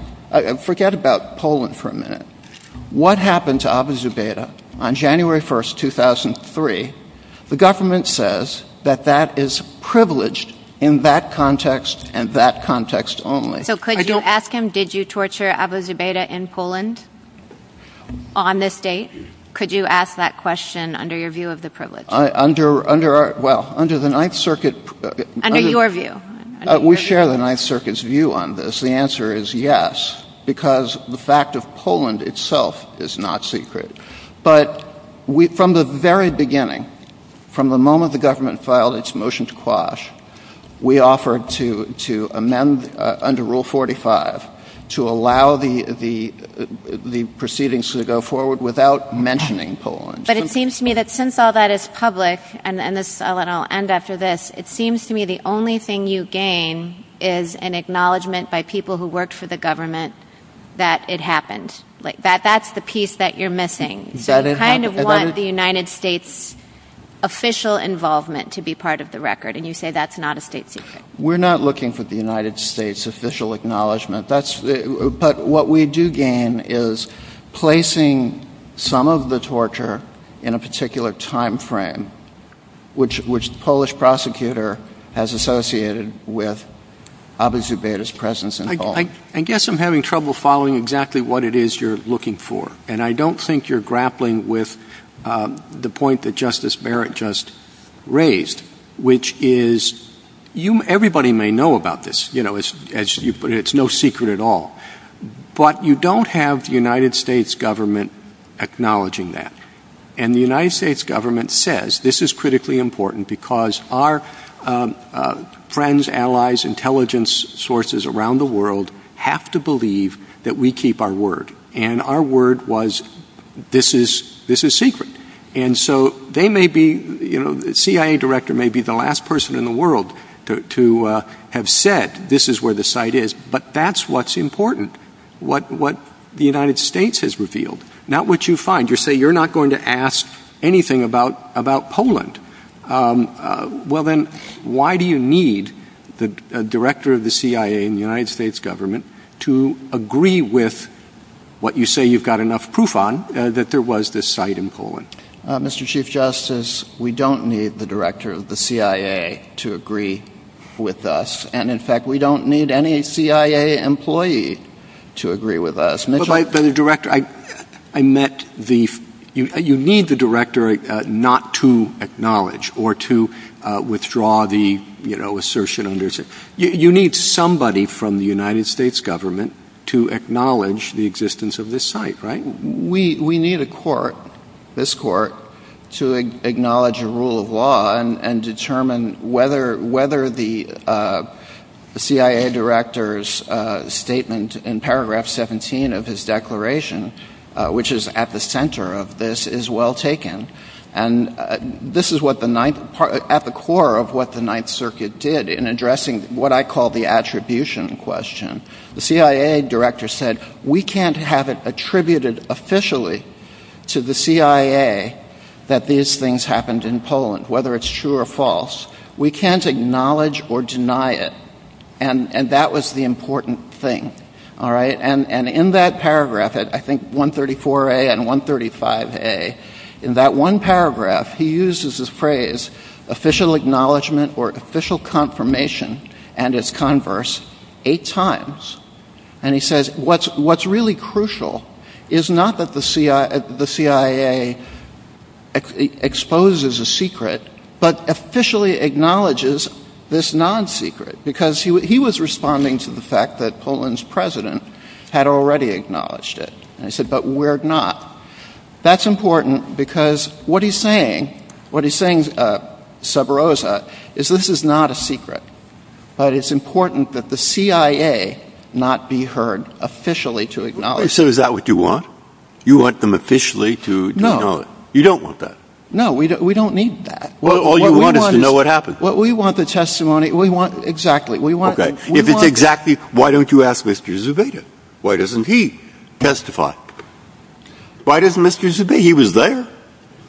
forget about Poland for a minute, what happened to Abu Zubaydah on January 1, 2003, the government says that that is privileged in that context and that context only. So could you ask him, did you torture Abu Zubaydah in Poland on this date? Could you ask that question under your view of the privilege? Well, under the Ninth Circuit... Under your view. We share the Ninth Circuit's view on this. The answer is yes, because the fact of Poland itself is not secret. But from the very beginning, from the moment the government filed its motion to quash, we offered to amend under Rule 45 to allow the proceedings to go forward without mentioning Poland. But it seems to me that since all that is public, and I'll end after this, it seems to me the only thing you gain is an acknowledgement by people who work for the government that it happened. That's the piece that you're missing. You kind of want the United States' official involvement to be part of the record, and you say that's not a state secret. We're not looking for the United States' official acknowledgement. But what we do gain is placing some of the torture in a particular time frame, which the Polish prosecutor has associated with Abu Zubaydah's presence in Poland. I guess I'm having trouble following exactly what it is you're looking for, and I don't think you're grappling with the point that Justice Barrett just raised, which is everybody may know about this. You know, as you put it, it's no secret at all. But you don't have the United States government acknowledging that. And the United States government says this is critically important because our friends, allies, intelligence sources around the world have to believe that we keep our word, and our word was this is secret. And so they may be, you know, the CIA director may be the last person in the world to have said this is where the site is, but that's what's important, what the United States has revealed, not what you find. You say you're not going to ask anything about Poland. Well, then, why do you need the director of the CIA in the United States government to agree with what you say you've got enough proof on, that there was this site in Poland? Mr. Chief Justice, we don't need the director of the CIA to agree with us, and, in fact, we don't need any CIA employee to agree with us. But the director, I met the... You need the director not to acknowledge or to withdraw the, you know, assertion under... You need somebody from the United States government to acknowledge the existence of this site, right? We need a court, this court, to acknowledge a rule of law and determine whether the CIA director's statement in paragraph 17 of his declaration, which is at the center of this, is well taken. And this is at the core of what the Ninth Circuit did in addressing what I call the attribution question. The CIA director said, we can't have it attributed officially to the CIA that these things happened in Poland, whether it's true or false. We can't acknowledge or deny it. And that was the important thing, all right? And in that paragraph, I think 134A and 135A, in that one paragraph, he uses the phrase official acknowledgment or official confirmation and it's converse eight times. And he says what's really crucial is not that the CIA exposes a secret, but officially acknowledges this non-secret because he was responding to the fact that Poland's president had already acknowledged it. And he said, but we're not. That's important because what he's saying, what he's saying, Severoza, is this is not a secret, but it's important that the CIA not be heard officially to acknowledge it. So is that what you want? You want them officially to acknowledge it? No. You don't want that? No, we don't need that. All you want is to know what happened. Well, we want the testimony. We want, exactly. If it's exactly, why don't you ask Mr. Zubeda? Why doesn't he testify? Why doesn't Mr. Zubeda? He was there.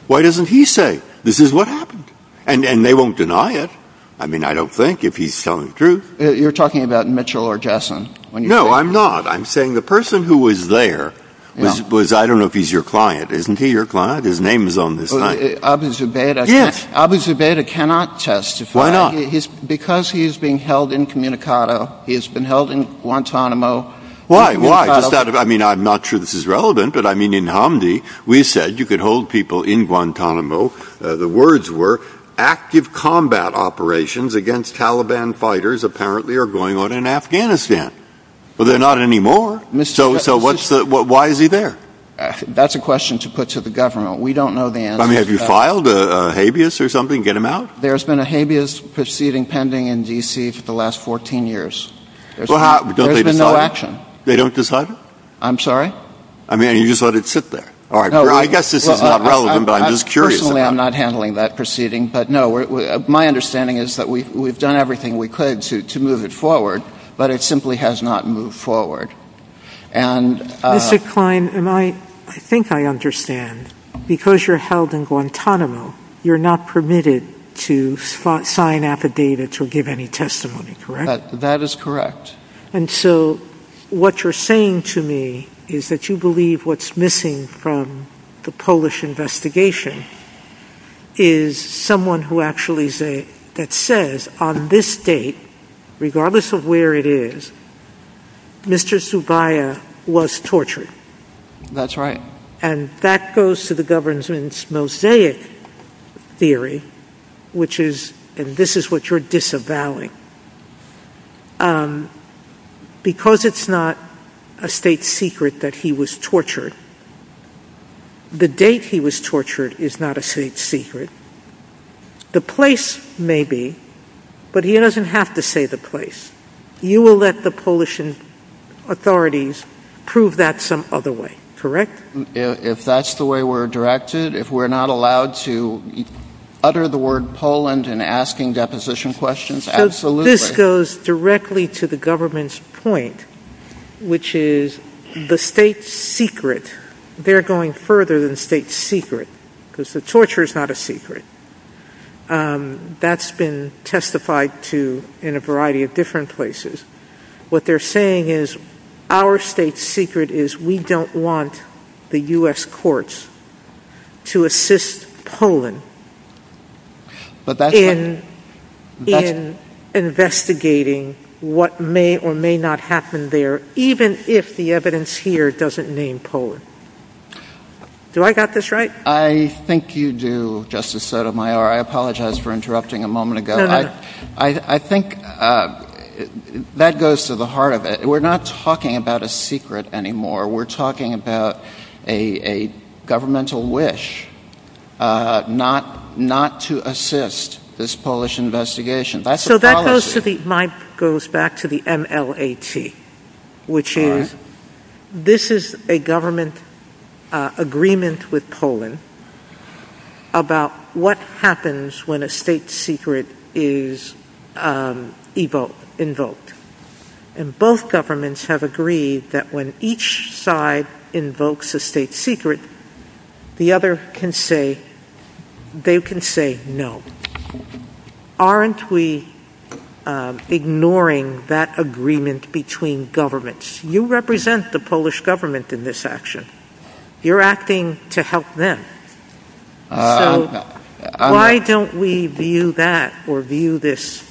Why doesn't he say this is what happened? And they won't deny it. I mean, I don't think if he's telling the truth. You're talking about Mitchell or Gasson. No, I'm not. I'm saying the person who was there was, I don't know if he's your client. Isn't he your client? His name is on the sign. Mr. Zubeda cannot testify. Why not? Because he's being held incommunicado. He has been held in Guantanamo. Why? Why? I mean, I'm not sure this is relevant, but I mean, in Hamdi, we said you could hold people in Guantanamo. The words were active combat operations against Taliban fighters apparently are going on in Afghanistan. Well, they're not anymore. So why is he there? That's a question to put to the government. We don't know the answer. I mean, have you filed a habeas or something to get him out? There's been a habeas proceeding pending in D.C. for the last 14 years. There's been no action. They don't decide? I'm sorry? I mean, you just let it sit there. I guess this is not relevant, but I'm just curious. Personally, I'm not handling that proceeding. But, no, my understanding is that we've done everything we could to move it forward, but it simply has not moved forward. Mr. Klein, I think I understand. Because you're held in Guantanamo, you're not permitted to sign affidavits or give any testimony, correct? That is correct. And so what you're saying to me is that you believe what's missing from the Polish investigation is someone who actually says, on this date, regardless of where it is, Mr. Zubaya was tortured. That's right. And that goes to the government's mosaic theory, which is, and this is what you're disavowing. Because it's not a state secret that he was tortured, the date he was tortured is not a state secret. The place may be, but he doesn't have to say the place. You will let the Polish authorities prove that some other way, correct? If that's the way we're directed, if we're not allowed to utter the word Poland in asking deposition questions, absolutely. This goes directly to the government's point, which is the state secret, they're going further than the state secret, because the torture is not a secret. That's been testified to in a variety of different places. What they're saying is our state secret is we don't want the U.S. courts to assist Poland in investigating what may or may not happen there, even if the evidence here doesn't name Poland. Do I got this right? I think you do, Justice Sotomayor. I apologize for interrupting a moment ago. I think that goes to the heart of it. We're not talking about a secret anymore. We're talking about a governmental wish not to assist this Polish investigation. So that goes back to the MLAT, which is this is a government agreement with Poland about what happens when a state secret is invoked. And both governments have agreed that when each side invokes a state secret, the other can say, they can say no. Aren't we ignoring that agreement between governments? You represent the Polish government in this action. You're acting to help them. So why don't we view that or view this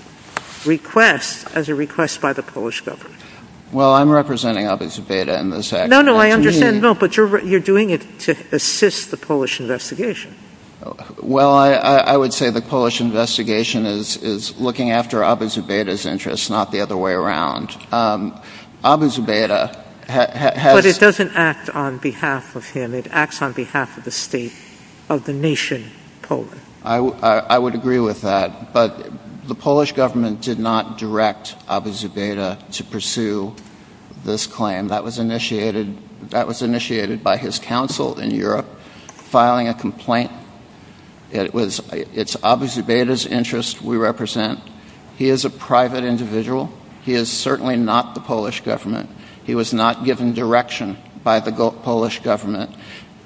request as a request by the Polish government? Well, I'm representing Alicja Beda in this action. No, no, I understand. No, but you're doing it to assist the Polish investigation. Well, I would say the Polish investigation is looking after Alicja Beda's interests, not the other way around. Alicja Beda has... But it doesn't act on behalf of him. It acts on behalf of the state of the nation, Poland. I would agree with that. But the Polish government did not direct Alicja Beda to pursue this claim. That was initiated by his counsel in Europe, filing a complaint. It's obviously Beda's interest we represent. He is a private individual. He is certainly not the Polish government. He was not given direction by the Polish government.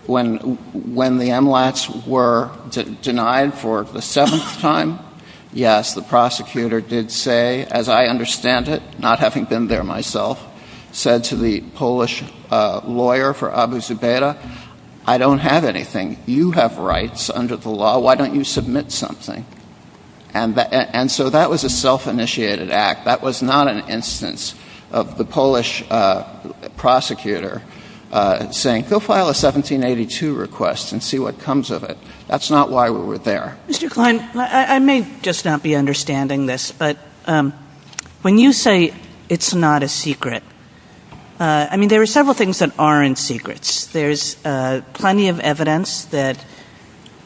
When the MLATs were denied for the seventh time, yes, the prosecutor did say, as I understand it, not having been there myself, said to the Polish lawyer for Abu Zubaydah, I don't have anything. You have rights under the law. Why don't you submit something? And so that was a self-initiated act. That was not an instance of the Polish prosecutor saying, go file a 1782 request and see what comes of it. That's not why we were there. Mr. Klein, I may just not be understanding this, but when you say it's not a secret, I mean, there are several things that aren't secrets. There's plenty of evidence that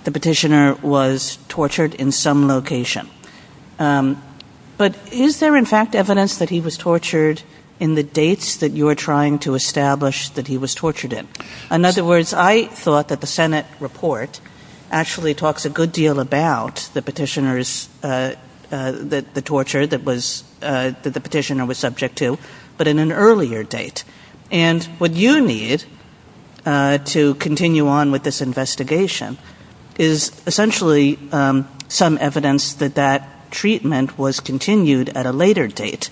the petitioner was tortured in some location. But is there, in fact, evidence that he was tortured in the dates that you are trying to establish that he was tortured in? In other words, I thought that the Senate report actually talks a good deal about the petitioners, the torture that the petitioner was subject to, but in an earlier date. And what you need to continue on with this investigation is essentially some evidence that that treatment was continued at a later date,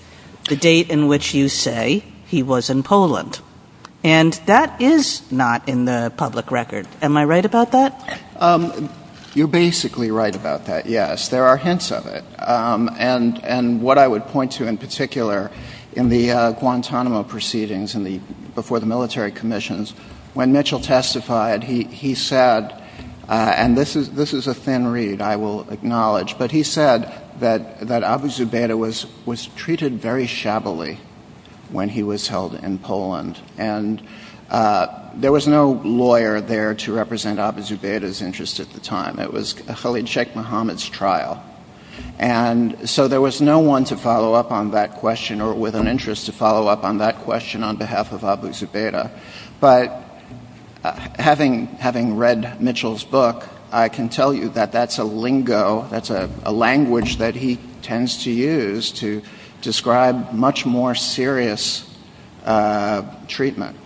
the date in which you say he was in Poland. And that is not in the public record. Am I right about that? You're basically right about that, yes. There are hints of it. And what I would point to in particular in the Guantanamo proceedings before the military commissions, when Mitchell testified, he said, and this is a thin read, I will acknowledge, but he said that Abu Zubaydah was treated very shabbily when he was held in Poland. And there was no lawyer there to represent Abu Zubaydah's interests at the time. It was Khalid Sheikh Mohammed's trial. And so there was no one to follow up on that question or with an interest to follow up on that question on behalf of Abu Zubaydah. But having read Mitchell's book, I can tell you that that's a lingo, that's a language that he tends to use to describe much more serious treatment,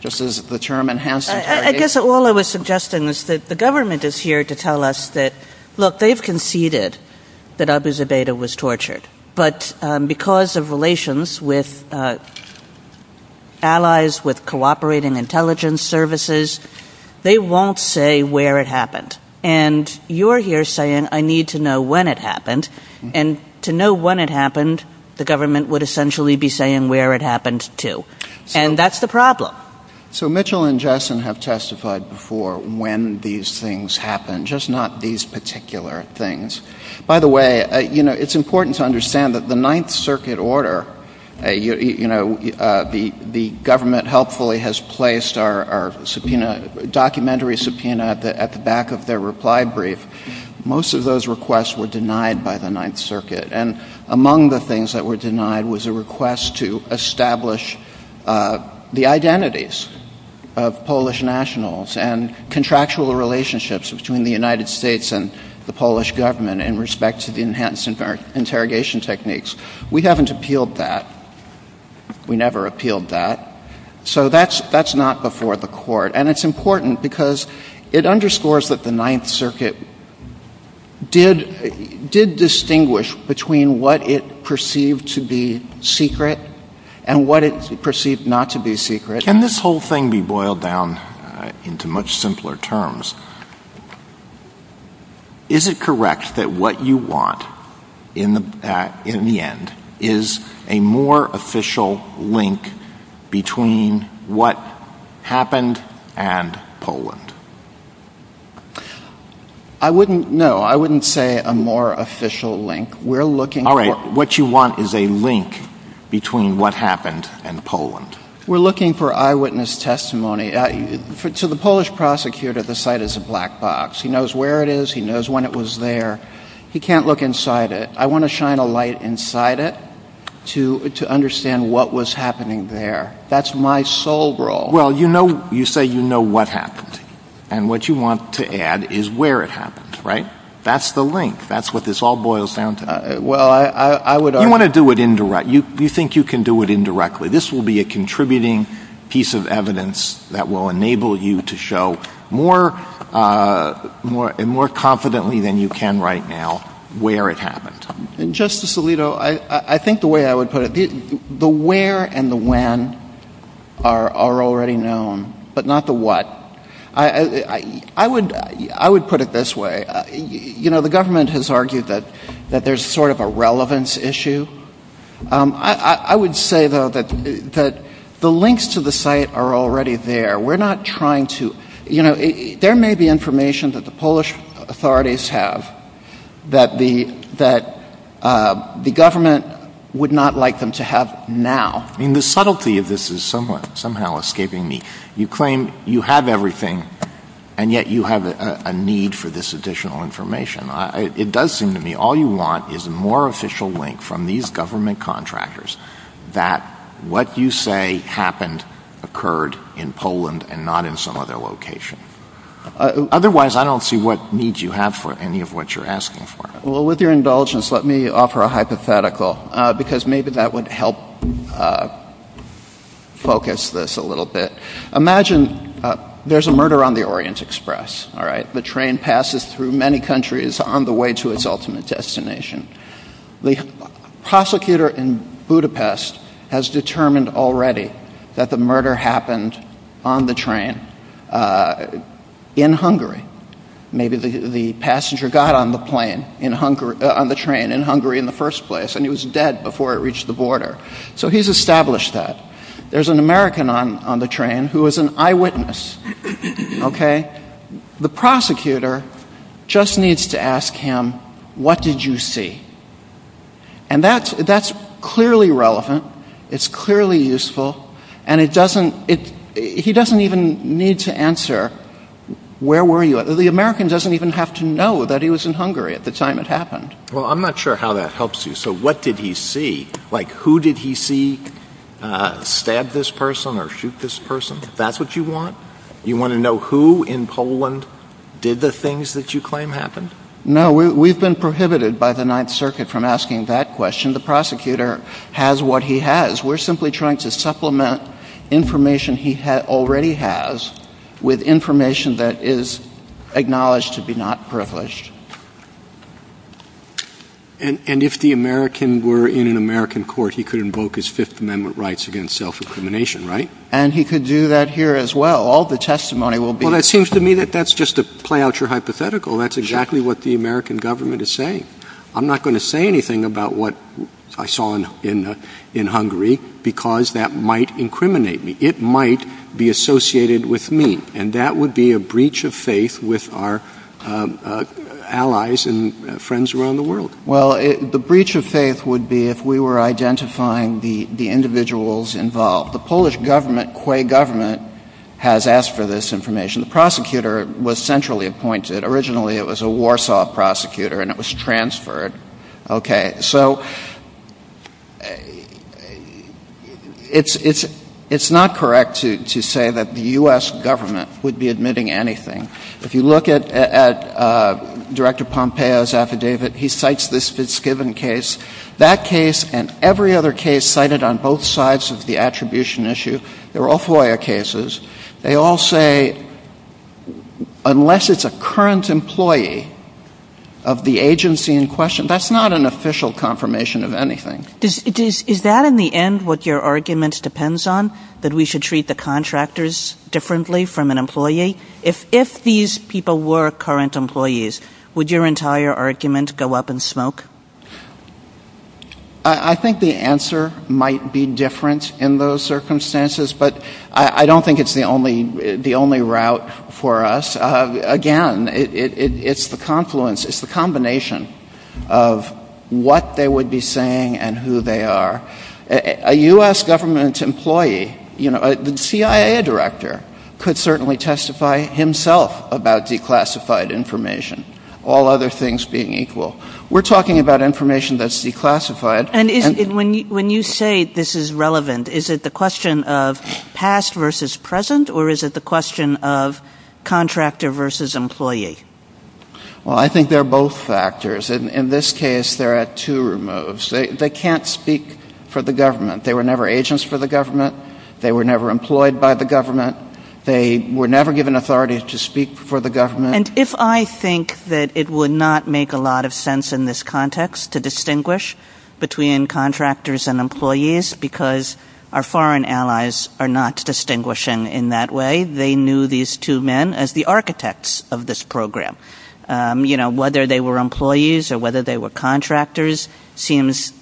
just as the term enhanced interrogation. I guess all I was suggesting is that the government is here to tell us that, look, they've conceded that Abu Zubaydah was tortured. But because of relations with allies, with cooperating intelligence services, they won't say where it happened. And you're here saying, I need to know when it happened. And to know when it happened, the government would essentially be saying where it happened to. And that's the problem. So Mitchell and Jessen have testified before when these things happen, just not these particular things. By the way, it's important to understand that the Ninth Circuit order, the government helpfully has placed our documentary subpoena at the back of their reply brief. Most of those requests were denied by the Ninth Circuit. And among the things that were denied was a request to establish the identities of Polish nationals and contractual relationships between the United States and the Polish government in respect to the enhanced interrogation techniques. We haven't appealed that. We never appealed that. So that's not before the court. And it's important because it underscores that the Ninth Circuit did distinguish between what it perceived to be secret and what it perceived not to be secret. Can this whole thing be boiled down into much simpler terms? Is it correct that what you want in the end is a more official link between what happened and Poland? No, I wouldn't say a more official link. What you want is a link between what happened and Poland. We're looking for eyewitness testimony. To the Polish prosecutor, the site is a black box. He knows where it is. He knows when it was there. He can't look inside it. I want to shine a light inside it to understand what was happening there. That's my sole role. Well, you say you know what happened. And what you want to add is where it happened, right? That's the link. That's what this all boils down to. You want to do it indirect. You think you can do it indirectly. This will be a contributing piece of evidence that will enable you to show more confidently than you can right now where it happened. Justice Alito, I think the way I would put it, the where and the when are already known, but not the what. I would put it this way. You know, the government has argued that there's sort of a relevance issue. I would say, though, that the links to the site are already there. We're not trying to, you know, there may be information that the Polish authorities have that the government would not like them to have now. I mean, the subtlety of this is somehow escaping me. You claim you have everything, and yet you have a need for this additional information. It does seem to me all you want is a more official link from these government contractors that what you say happened, occurred in Poland and not in some other location. Otherwise, I don't see what needs you have for any of what you're asking for. Well, with your indulgence, let me offer a hypothetical, because maybe that would help focus this a little bit. Imagine there's a murder on the Orient Express, all right? The train passes through many countries on the way to its ultimate destination. The prosecutor in Budapest has determined already that the murder happened on the train in Hungary. Maybe the passenger got on the train in Hungary in the first place, and he was dead before it reached the border. So he's established that. There's an American on the train who is an eyewitness, okay? The prosecutor just needs to ask him, what did you see? And that's clearly relevant. It's clearly useful. And he doesn't even need to answer, where were you? The American doesn't even have to know that he was in Hungary at the time it happened. Well, I'm not sure how that helps you. So what did he see? Like, who did he see stab this person or shoot this person, if that's what you want? You want to know who in Poland did the things that you claim happened? No, we've been prohibited by the Ninth Circuit from asking that question. The prosecutor has what he has. We're simply trying to supplement information he already has with information that is acknowledged to be not privileged. And if the American were in an American court, he could invoke his Fifth Amendment rights against self-incrimination, right? And he could do that here as well. All the testimony will be- Well, it seems to me that that's just to play out your hypothetical. That's exactly what the American government is saying. I'm not going to say anything about what I saw in Hungary because that might incriminate me. It might be associated with me. And that would be a breach of faith with our allies and friends around the world. Well, the breach of faith would be if we were identifying the individuals involved. The Polish government, Quay government, has asked for this information. The prosecutor was centrally appointed. Originally, it was a Warsaw prosecutor, and it was transferred. Okay, so it's not correct to say that the U.S. government would be admitting anything. If you look at Director Pompeo's affidavit, he cites this given case. That case and every other case cited on both sides of the attribution issue, they're all FOIA cases. They all say unless it's a current employee of the agency in question, that's not an official confirmation of anything. Is that in the end what your argument depends on, that we should treat the contractors differently from an employee? If these people were current employees, would your entire argument go up in smoke? I think the answer might be different in those circumstances, but I don't think it's the only route for us. Again, it's the confluence, it's the combination of what they would be saying and who they are. A U.S. government employee, you know, a CIA director could certainly testify himself about declassified information, all other things being equal. We're talking about information that's declassified. When you say this is relevant, is it the question of past versus present, or is it the question of contractor versus employee? Well, I think they're both factors. In this case, they're at two removes. They can't speak for the government. They were never agents for the government. They were never employed by the government. They were never given authority to speak for the government. And if I think that it would not make a lot of sense in this context to distinguish between contractors and employees, because our foreign allies are not distinguishing in that way, they knew these two men as the architects of this program. You know, whether they were employees or whether they were contractors seems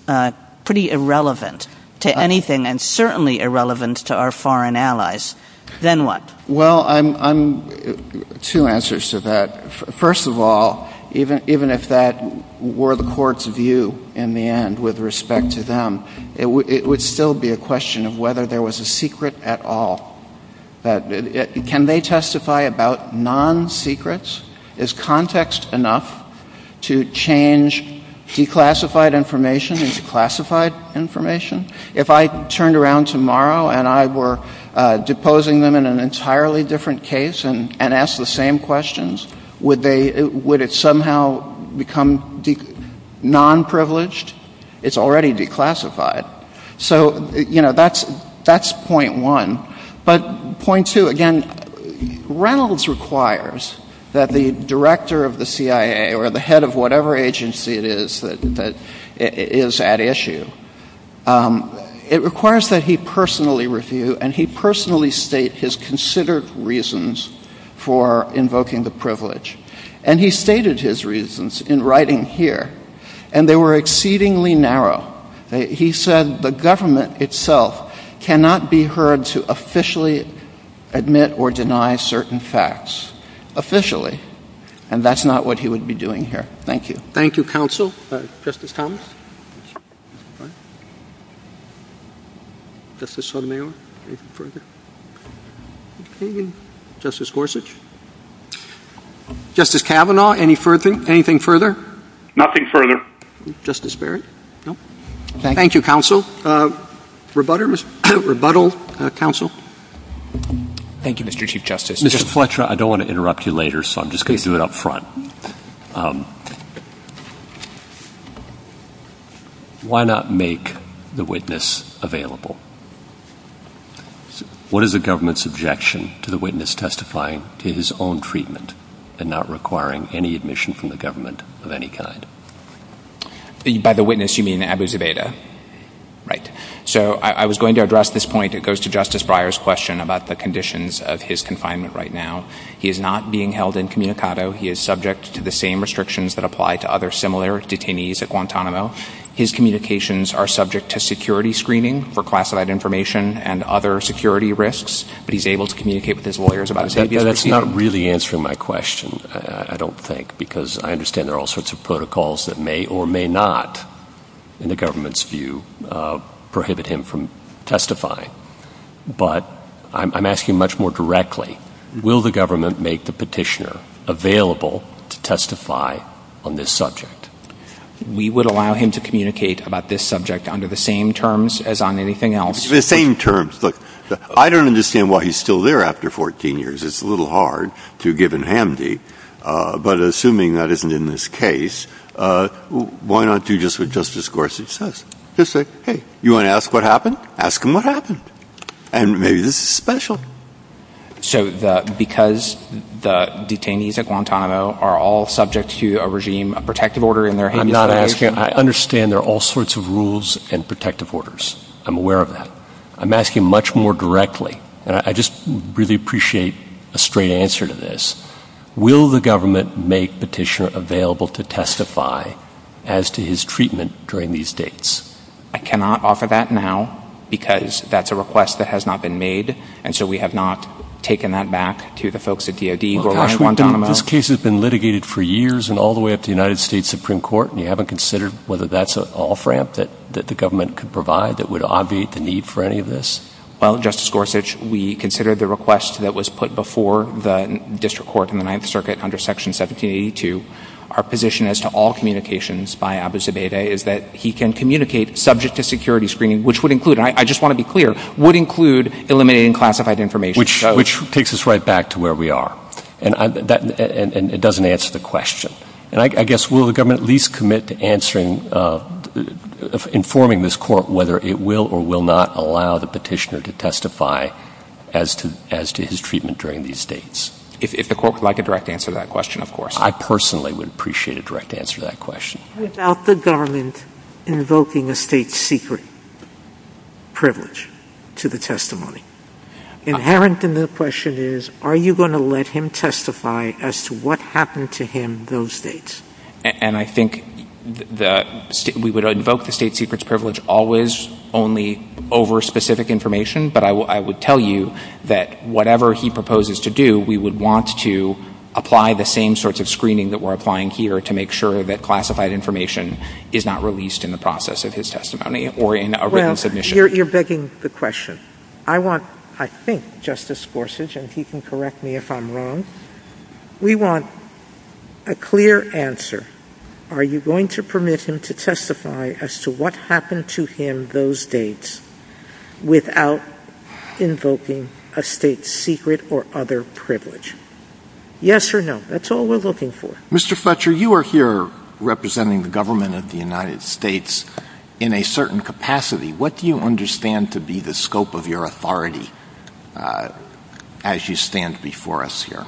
pretty irrelevant to anything, and certainly irrelevant to our foreign allies. Then what? Well, two answers to that. First of all, even if that were the Court's view in the end with respect to them, it would still be a question of whether there was a secret at all. Can they testify about non-secrets? Is context enough to change declassified information into classified information? If I turned around tomorrow and I were deposing them in an entirely different case and asked the same questions, would it somehow become non-privileged? It's already declassified. So, you know, that's point one. But point two, again, Reynolds requires that the director of the CIA or the head of whatever agency it is that is at issue, it requires that he personally review and he personally state his considered reasons for invoking the privilege. And he stated his reasons in writing here, and they were exceedingly narrow. He said the government itself cannot be heard to officially admit or deny certain facts. Officially. And that's not what he would be doing here. Thank you. Thank you, counsel. Justice Thomas? Justice Sotomayor? Justice Gorsuch? Justice Kavanaugh, anything further? Nothing further. Justice Barrett? Thank you, counsel. Rebuttal, counsel? Thank you, Mr. Chief Justice. Mr. Fletcher, I don't want to interrupt you later, so I'm just going to do it up front. Why not make the witness available? What is the government's objection to the witness testifying to his own treatment and not requiring any admission from the government of any kind? By the witness, you mean Abu Zubaydah. Right. So I was going to address this point. It goes to Justice Breyer's question about the conditions of his confinement right now. He is not being held incommunicado. He is subject to the same restrictions that apply to other similar detainees at Guantanamo. His communications are subject to security screening for classified information and other security risks, but he's able to communicate with his lawyers about security. That's not really answering my question, I don't think, because I understand there are all sorts of protocols that may or may not, in the government's view, prohibit him from testifying. But I'm asking much more directly. Will the government make the petitioner available to testify on this subject? We would allow him to communicate about this subject under the same terms as on anything else. The same terms. Look, I don't understand why he's still there after 14 years. It's a little hard to give in handy. But assuming that isn't in this case, why not do just what Justice Gorsuch says? Just say, hey, you want to ask what happened? Ask him what happened. And maybe this is special. So because the detainees at Guantanamo are all subject to a regime, a protective order in their hands. I'm not asking. I understand there are all sorts of rules and protective orders. I'm aware of that. I'm asking much more directly. And I just really appreciate a straight answer to this. Will the government make the petitioner available to testify as to his treatment during these dates? I cannot offer that now because that's a request that has not been made. And so we have not taken that back to the folks at DOD or Guantanamo. This case has been litigated for years and all the way up to the United States Supreme Court, and you haven't considered whether that's an off ramp that the government could provide that would obviate the need for any of this? Well, Justice Gorsuch, we considered the request that was put before the district court in the Ninth Circuit under Section 1782. Our position as to all communications by Abu Zubaydah is that he can communicate subject to security screening, which would include, and I just want to be clear, would include eliminating classified information. Which takes us right back to where we are, and it doesn't answer the question. And I guess will the government at least commit to answering, informing this court whether it will or will not allow the petitioner to testify as to his treatment during these dates? If the court would like a direct answer to that question, of course. I personally would appreciate a direct answer to that question. Without the government invoking a state secret privilege to the testimony. Inherent in the question is, are you going to let him testify as to what happened to him those dates? And I think we would invoke the state secret privilege always only over specific information, but I would tell you that whatever he proposes to do, we would want to apply the same sorts of screening that we're applying here to make sure that classified information is not released in the process of his testimony or in a written submission. Well, you're begging the question. I want, I think, Justice Gorsuch, and he can correct me if I'm wrong, we want a clear answer. Are you going to permit him to testify as to what happened to him those dates without invoking a state secret or other privilege? Yes or no? That's all we're looking for. Mr. Fletcher, you are here representing the government of the United States in a certain capacity. What do you understand to be the scope of your authority as you stand before us here?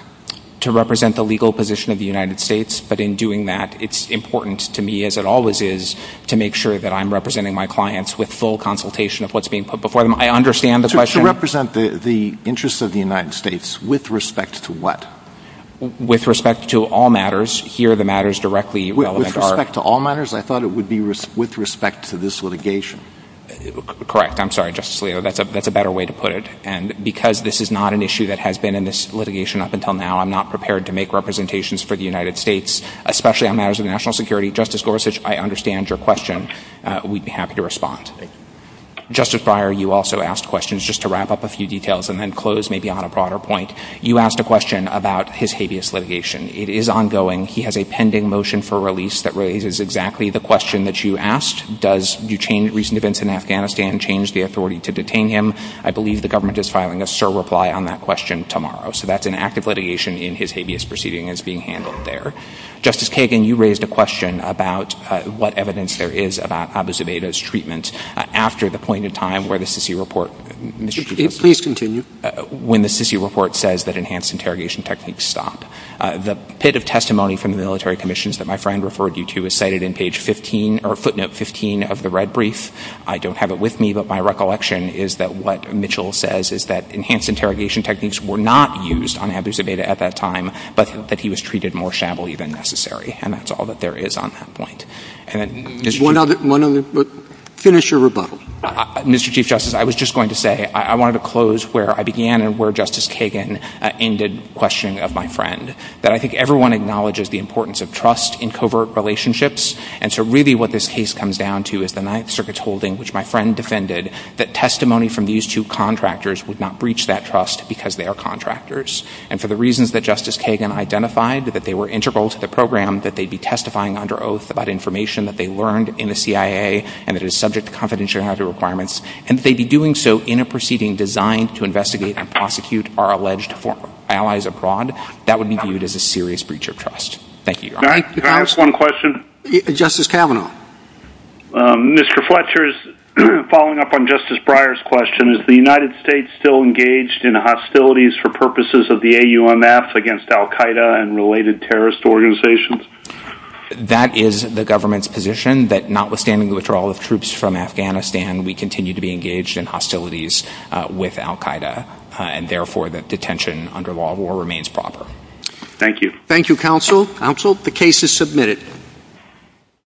To represent the legal position of the United States, but in doing that, it's important to me, as it always is, to make sure that I'm representing my clients with full consultation of what's being put before them. I understand the question. To represent the interests of the United States with respect to what? With respect to all matters. Here the matters directly relevant are. With respect to all matters? I thought it would be with respect to this litigation. Correct. I'm sorry, Justice Alito, that's a better way to put it. And because this is not an issue that has been in this litigation up until now, I'm not prepared to make representations for the United States, especially on matters of national security. Justice Gorsuch, I understand your question. We'd be happy to respond. Thank you. Justice Breyer, you also asked questions. Just to wrap up a few details and then close maybe on a broader point, you asked a question about his habeas litigation. It is ongoing. He has a pending motion for release that raises exactly the question that you asked. Does the recent events in Afghanistan change the authority to detain him? I believe the government is filing a surreply on that question tomorrow. So that's an active litigation in his habeas proceeding is being handled there. Justice Kagan, you raised a question about what evidence there is about Abu Zubaydah's treatment. Please continue. When the report says that enhanced interrogation techniques stop. The testimony from the military commissions that my friend referred you to is cited in footnote 15 of the red brief. I don't have it with me, but my recollection is that what Mitchell says is that enhanced interrogation techniques were not used on Abu Zubaydah at that time, but that he was treated more shabbily than necessary. And that's all that there is on that point. Finish your rebuttal. Mr. Chief Justice, I was just going to say I wanted to close where I began and where Justice Kagan ended questioning of my friend. That I think everyone acknowledges the importance of trust in covert relationships. And so really what this case comes down to is the Ninth Circuit's holding, which my friend defended, that testimony from these two contractors would not breach that trust because they are contractors. And for the reasons that Justice Kagan identified, that they were integral to the program, that they'd be testifying under oath about information that they learned in the CIA and that is subject to confidentiality and other requirements, and that they'd be doing so in a proceeding designed to investigate and prosecute our alleged allies abroad, that would be viewed as a serious breach of trust. Thank you. Can I ask one question? Justice Kavanaugh. Mr. Fletcher, following up on Justice Breyer's question, is the United States still engaged in hostilities for purposes of the AUMF against Al Qaeda and related terrorist organizations? That is the government's position, that notwithstanding the withdrawal of troops from Afghanistan, we continue to be engaged in hostilities with Al Qaeda, and therefore the detention under law will remain proper. Thank you. Thank you, counsel. Counsel, the case is submitted.